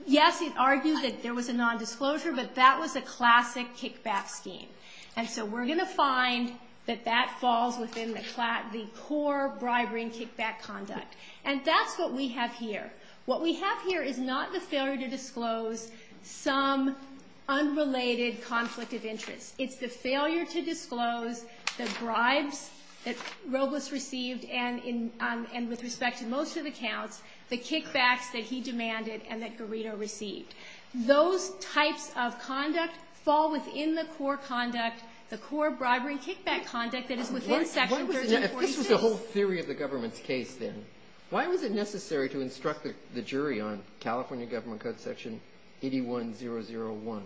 yes, it argued that there was a nondisclosure, but that was a classic kickback scheme. And so we're going to find that that falls within the core bribery and kickback conduct. And that's what we have here. What we have here is not the failure to disclose some unrelated conflict of interest. It's the failure to disclose the bribes that Robles received and with respect to most of the counts, the kickbacks that he demanded and that Garrido received. Those types of conducts fall within the core conduct, the core bribery and kickback conduct that is within section 1342. If this was the whole theory of the government's case then, why was it necessary to instruct the jury on California Government Code section 81001,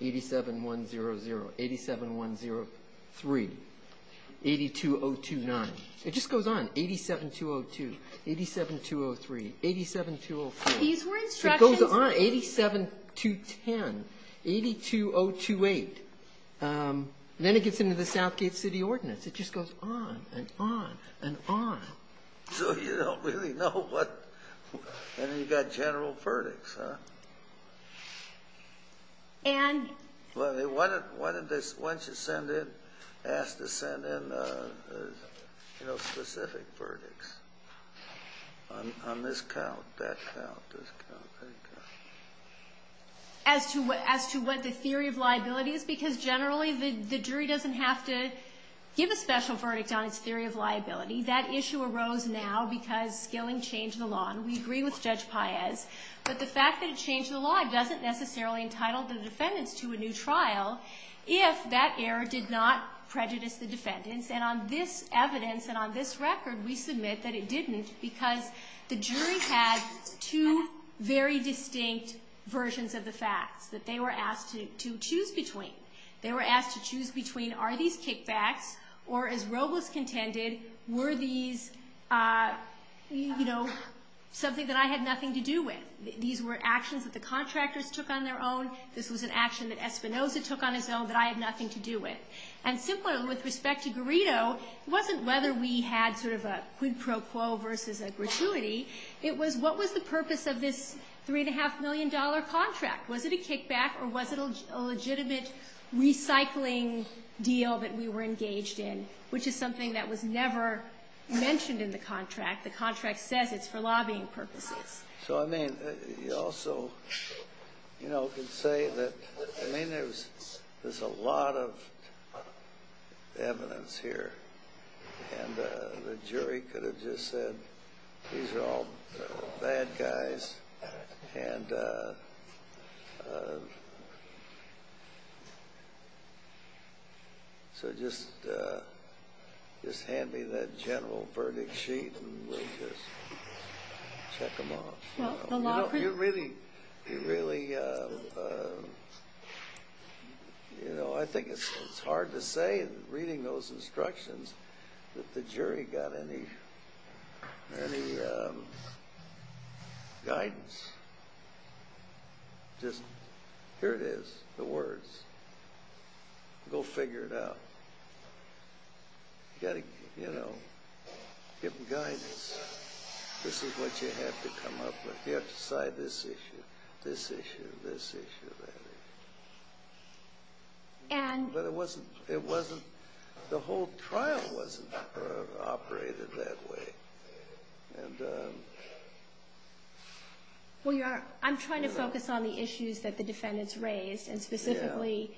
87100, 87103, 82029? It just goes on, 87202, 87203, 87204. It goes on, 87210, 82028. Then it gets into the Southgate City Ordinance. It just goes on and on and on. So you don't really know. And then you've got general verdicts, huh? Why didn't they ask to send in specific verdicts on this count, that count, this count, that count? As to what the theory of liability is? Because generally the jury doesn't have to give a special verdict on its theory of liability. That issue arose now because Gillen changed the law. And we agree with Judge Paez. But the fact that it changed the law doesn't necessarily entitle the defendants to a new trial if that error did not prejudice the defendants. And on this evidence and on this record we submit that it didn't because the jury has two very distinct versions of the facts that they were asked to choose between. They were asked to choose between, are these kickbacks, or as Robles contended, were these, you know, something that I had nothing to do with? These were actions that the contractors took on their own. This was an action that Espinoza took on his own that I had nothing to do with. And simply with respect to Burrito, it wasn't whether we had sort of a quid pro quo versus a gratuity. It was what was the purpose of this $3.5 million contract? Was it a kickback or was it a legitimate recycling deal that we were engaged in, which is something that was never mentioned in the contract? The contract says it's for lobbying purposes. So, I mean, you also, you know, could say that, I mean, there's a lot of evidence here. And the jury could have just said, these are all bad guys. And so just hand me that general verdict sheet and we'll just check them off. You're really, you know, I think it's hard to say, reading those instructions, that the jury got any guidance. Just, here it is, the words. Go figure it out. You've got to, you know, give them guidance. This is what you have to come up with. You have to decide this issue, this issue, this issue. But it wasn't, the whole trial wasn't operated that way. Well, I'm trying to focus on the issues that the defendants raised, and specifically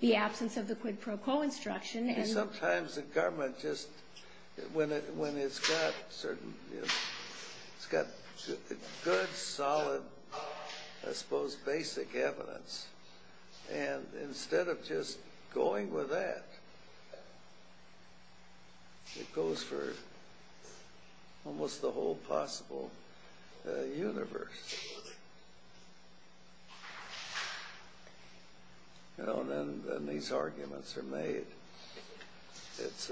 the absence of the quid pro quo instruction. And sometimes the government just, when it's got certain, you know, it's got good, solid, I suppose, basic evidence. And instead of just going with that, it goes for almost the whole possible universe. You know, and then these arguments are made. It's,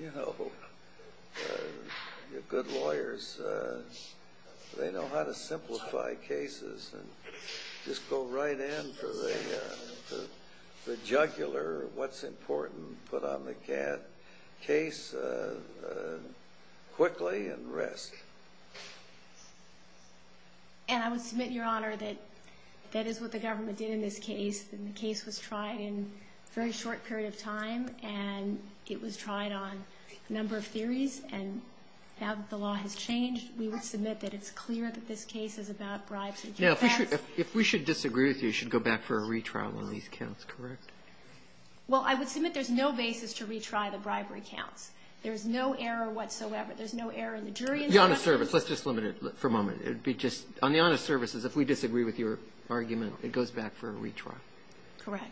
you know, good lawyers, they know how to simplify cases and just go right in for the jugular, what's important, put on the case quickly and risk. And I would submit, Your Honor, that that is what the government did in this case. And the case was tried in a very short period of time. And it was tried on a number of theories. And now that the law has changed, we would submit that it's clear that this case is about bribery. Now, if we should disagree with you, you should go back for a retrial on these counts, correct? Well, I would submit there's no basis to retry the bribery counts. There's no error whatsoever. There's no error in the jury instruction. The honest service. Let's just limit it for a moment. It would be just, on the honest services, if we disagree with your argument, it goes back for a retrial. Correct.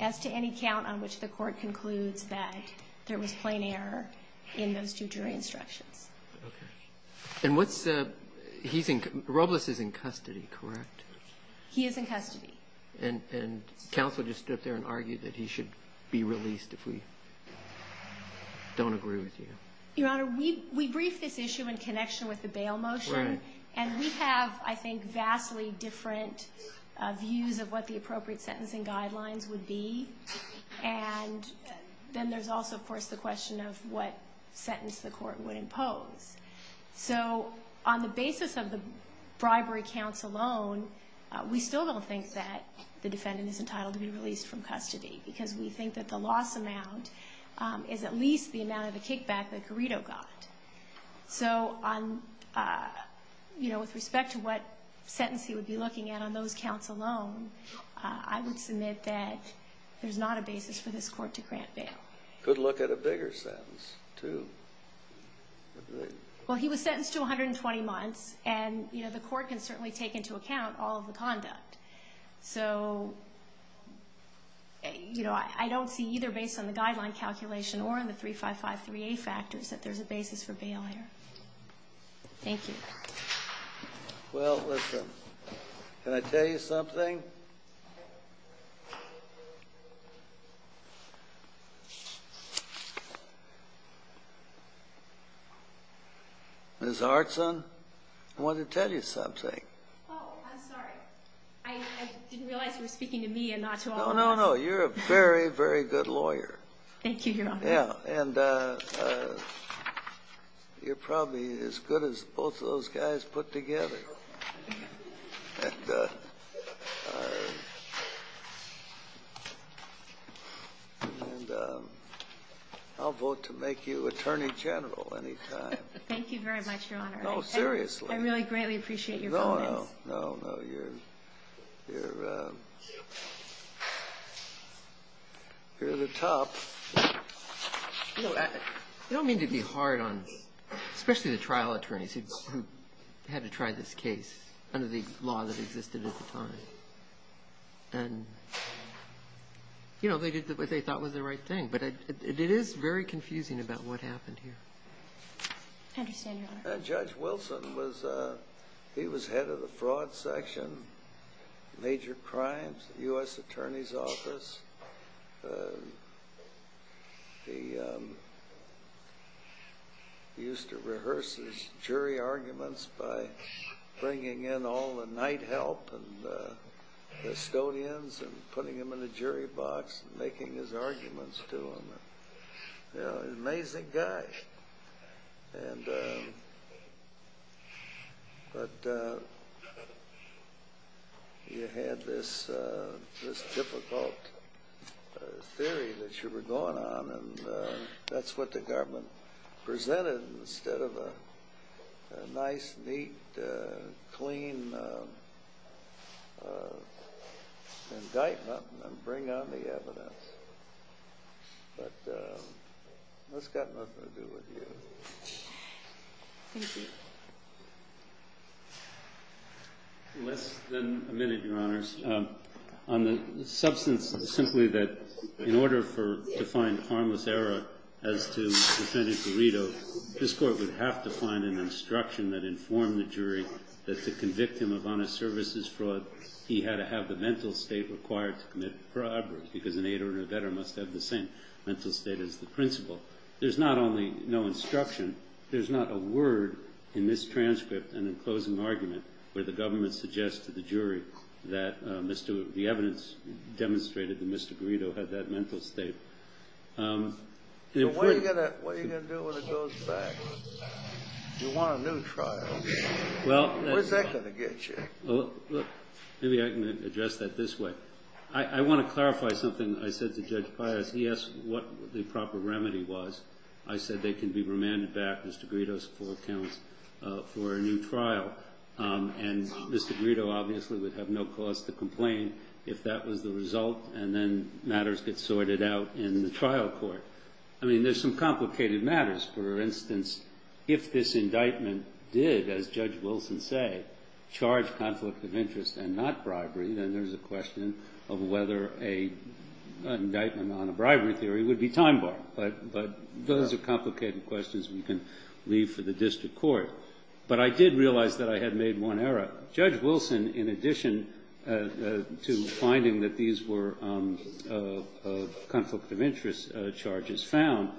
As to any count on which the court concludes that there was plain error in those two jury instructions. Okay. And what's the, he's in, Robles is in custody, correct? He is in custody. And counsel just stood there and argued that he should be released if we don't agree with you. Your Honor, we briefed this issue in connection with the bail motion. Right. And we have, I think, vastly different views of what the appropriate sentencing guidelines would be. And then there's also, of course, the question of what sentence the court would impose. So, on the basis of the bribery counts alone, we still don't think that the defendant is entitled to be released from custody. Because we think that the loss amount is at least the amount of the kickback that Garrido got. So, on, you know, with respect to what sentence he would be looking at on those counts alone, I would submit that there's not a basis for this court to grant bail. Could look at a bigger sentence, too. Well, he was sentenced to 120 months, and, you know, the court can certainly take into account all of the conduct. So, you know, I don't see, either based on the guideline calculation or on the 3553A factors, that there's a basis for bail here. Thank you. Well, listen, can I tell you something? Ms. Artson, I wanted to tell you something. Oh, I'm sorry. I didn't realize you were speaking to me and not to Arthur. No, no, no. You're a very, very good lawyer. Thank you, Your Honor. Yeah, and you're probably as good as both of those guys put together. And I'll vote to make you Attorney General any time. Thank you very much, Your Honor. No, seriously. I really, greatly appreciate your vote. No, no. No, no. You're the top. You know, I don't mean to be hard on, especially the trial attorneys who had to try this case under the law that existed at the time. And, you know, they did what they thought was the right thing, but it is very confusing about what happened here. Thank you, Your Honor. Judge Wilson, he was head of the broad section, major crimes, U.S. Attorney's Office. He used to rehearse his jury arguments by bringing in all the night help and custodians and putting them in a jury box and making his arguments to them. You know, an amazing guy. But you had this difficult theory that you were going on, and that's what the government presented instead of a nice, neat, clean indictment and bring on the evidence. But that's got nothing to do with you. Thank you. Well, it's been a minute, Your Honors. On the substance, simply that in order for, to find harmless error, as to defendant Dorito, this court would have to find an instruction that informed the jury that to convict him of honest services fraud, he had to have the mental state required to commit the fraud. Because an aider and a veteran must have the same mental state as the principal. There's not only no instruction, there's not a word in this transcript and in closing argument where the government suggests to the jury that the evidence demonstrated that Mr. Dorito had that mental state. What are you going to do when it goes back? You want a new trial. Where's that going to get you? Maybe I can address that this way. I want to clarify something I said to Judge Pius. He asked what the proper remedy was. I said they can be remanded back, Mr. Dorito's four counts, for a new trial. And Mr. Dorito obviously would have no cause to complain if that was the result and then matters get sorted out in the trial court. I mean, there's some complicated matters. For instance, if this indictment did, as Judge Wilson said, charge conflict of interest and not bribery, then there's a question of whether an indictment on a bribery theory would be time-barred. But those are complicated questions we can leave for the district court. But I did realize that I had made one error. Judge Wilson, in addition to finding that these were conflict of interest charges, found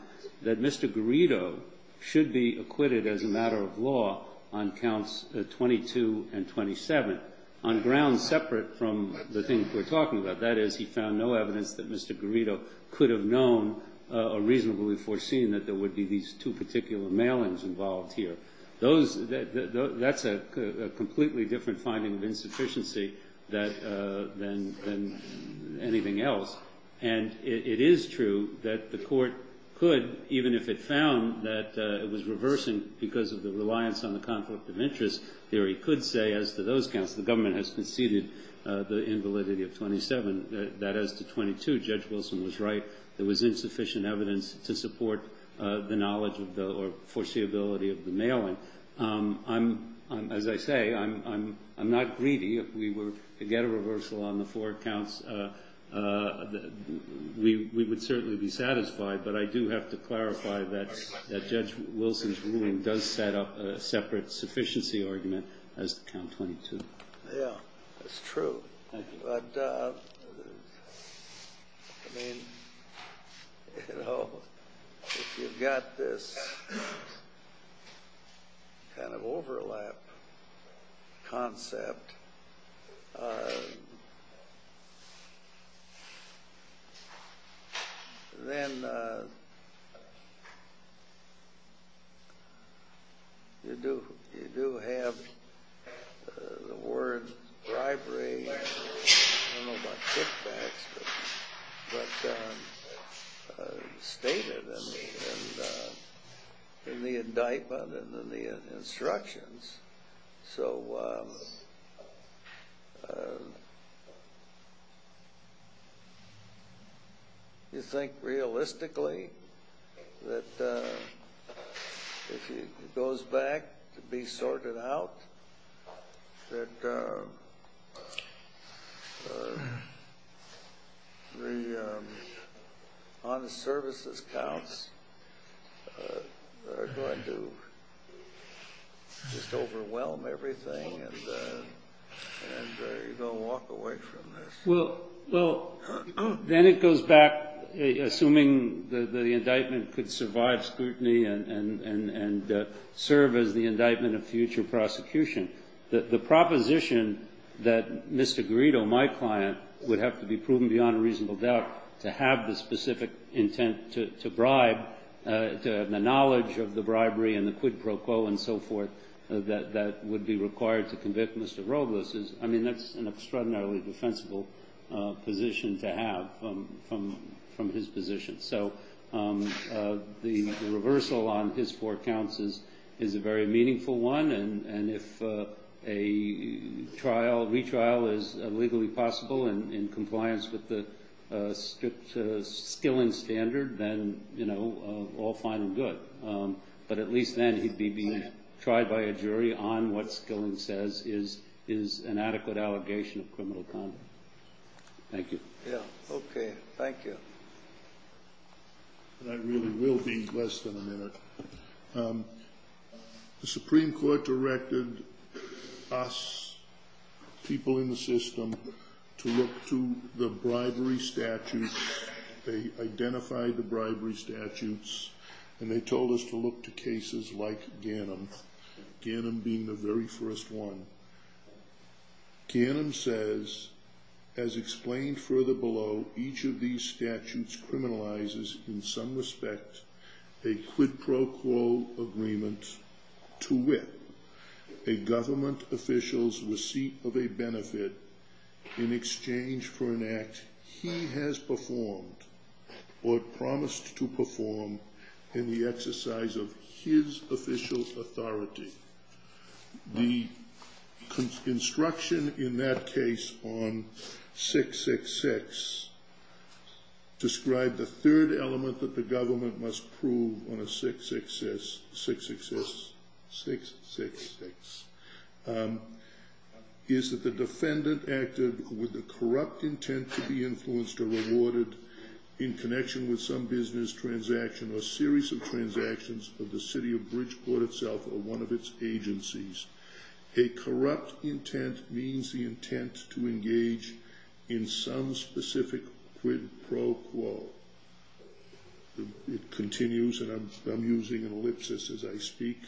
that Mr. Dorito should be acquitted as a matter of law on counts 22 and 27, on grounds separate from the things we're talking about. That is, he found no evidence that Mr. Dorito could have known or reasonably foreseen that there would be these two particular mailings involved here. That's a completely different finding of insufficiency than anything else. And it is true that the court could, even if it found that it was reversing because of the reliance on the conflict of interest theory, could say as to those counts, the government has conceded the invalidity of 27, that as to 22, Judge Wilson was right. There was insufficient evidence to support the knowledge or foreseeability of the mailing. As I say, I'm not greedy. If we were to get a reversal on the four counts, we would certainly be satisfied. But I do have to clarify that Judge Wilson's ruling does set up a separate sufficiency argument as to counts 22. Yeah, that's true. But if you've got this kind of overlap concept, then you do have the word bribery. I don't know about kickbacks, but it's stated in the indictment and in the instructions. So do you think realistically that if he goes back to be sorted out, that the honest services counts are going to be totaled? Well, then it goes back, assuming that the indictment could survive scrutiny and serve as the indictment of future prosecution. The proposition that Mr. Grito, my client, would have to be proven beyond a reasonable doubt to have the specific intent to bribe, the knowledge of the bribery and the quid pro quo and so forth, that would be required to convict Mr. Robles, I mean, that's an extraordinarily defensible position to have from his position. So the reversal on his four counts is a very meaningful one. And if a retrial is legally possible in compliance with the Skilling standard, then all fine and good. But at least then he'd be tried by a jury on what Skilling says is an adequate allegation of criminal conduct. Thank you. Okay, thank you. I really will be less than a minute. The Supreme Court directed us, people in the system, to look to the bribery statutes. They identified the bribery statutes and they told us to look to cases like Ganim, Ganim being the very first one. Ganim says, as explained further below, each of these statutes criminalizes in some respect a quid pro quo agreement to whip a government official's receipt of a benefit in exchange for an act he has performed or promised to perform in the exercise of his official authority. The construction in that case on 666 described the third element that the government must prove on a 666. Is that the defendant acted with a corrupt intent to be influenced or rewarded in connection with some business transaction or series of transactions of the city of Bridgeport itself or one of its agencies. A corrupt intent means the intent to engage in some specific quid pro quo. It continues, and I'm using an ellipsis as I speak.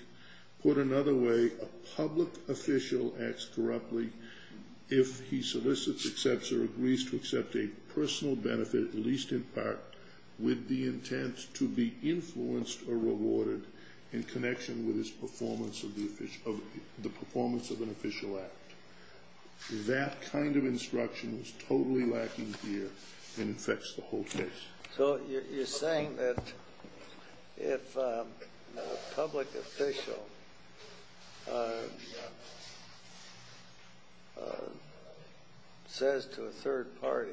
Put another way, a public official acts corruptly if he solicits, accepts, or agrees to accept a personal benefit, at least in part, with the intent to be influenced or rewarded in connection with his performance of an official act. That kind of instruction is totally lacking here and affects the whole case. So you're saying that if a public official says to a third party,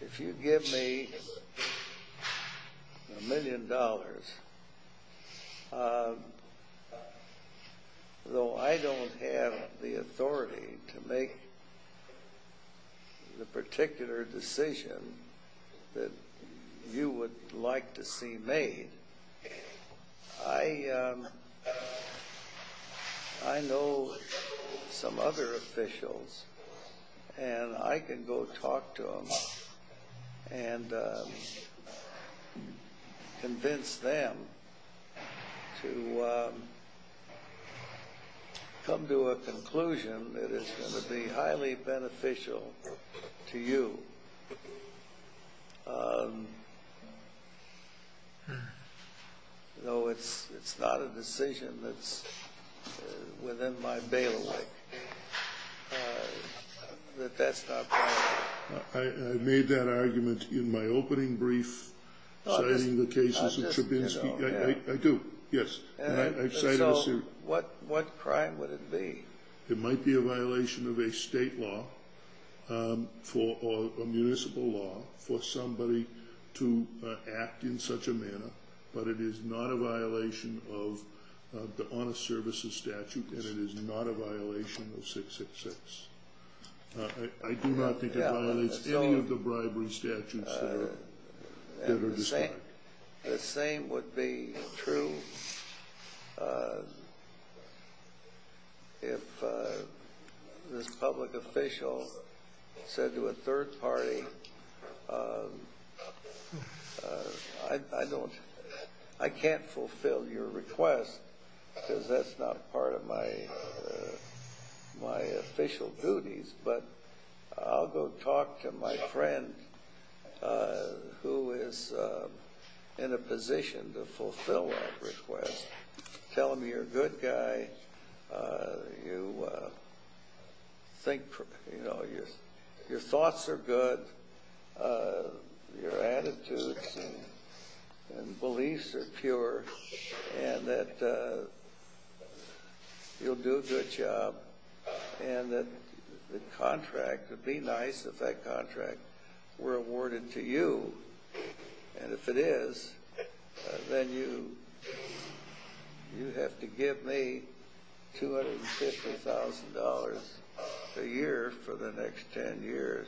If you give me a million dollars, though I don't have the authority to make the particular decision that you would like to see made, I know some other officials and I can go talk to them and convince them to come to a conclusion that is going to be highly beneficial to you. Though it's not a decision that's within my bailiwick that that's not going to happen. I made that argument in my opening brief citing the cases of Chabinski. I do, yes. So what crime would it be? It might be a violation of a state law or a municipal law for somebody to act in such a manner, but it is not a violation of the Honest Services statute and it is not a violation of 666. I do not think it violates any of the bribery statutes. The same would be true if this public official said to a third party, I can't fulfill your request because that's not part of my official duties, but I'll go talk to my friend who is in a position to fulfill that request. Tell them you're a good guy, your thoughts are good, your attitudes and beliefs are pure, and that you'll do a good job. And that the contract, be nice if that contract were awarded to you. And if it is, then you have to give me $250,000 a year for the next 10 years.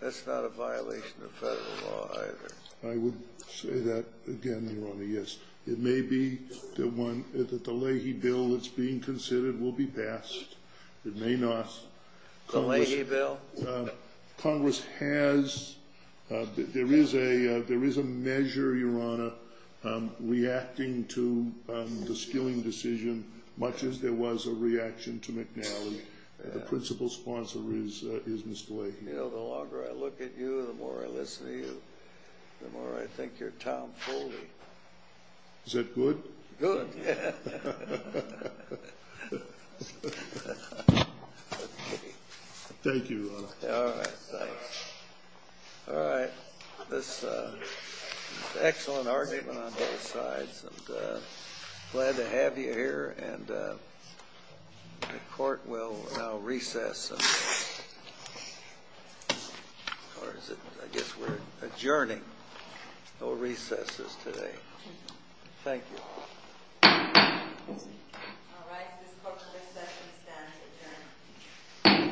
That's not a violation of federal law either. I would say that again, Your Honor, yes. It may be that the Leahy bill that's being considered will be passed. It may not. The Leahy bill? Congress has, there is a measure, Your Honor, reacting to the Skilling decision, much as there was a reaction to McNally. The principal sponsor is misplaced. The longer I look at you, the more I listen to you, the more I think you're Tom Foley. Is that good? Good. Thank you. Thank you, Your Honor. All right. All right. This is an excellent argument on both sides. I'm glad to have you here. And the court will now recess. I guess we're adjourning. No recesses today. Thank you. All right. This session is adjourned.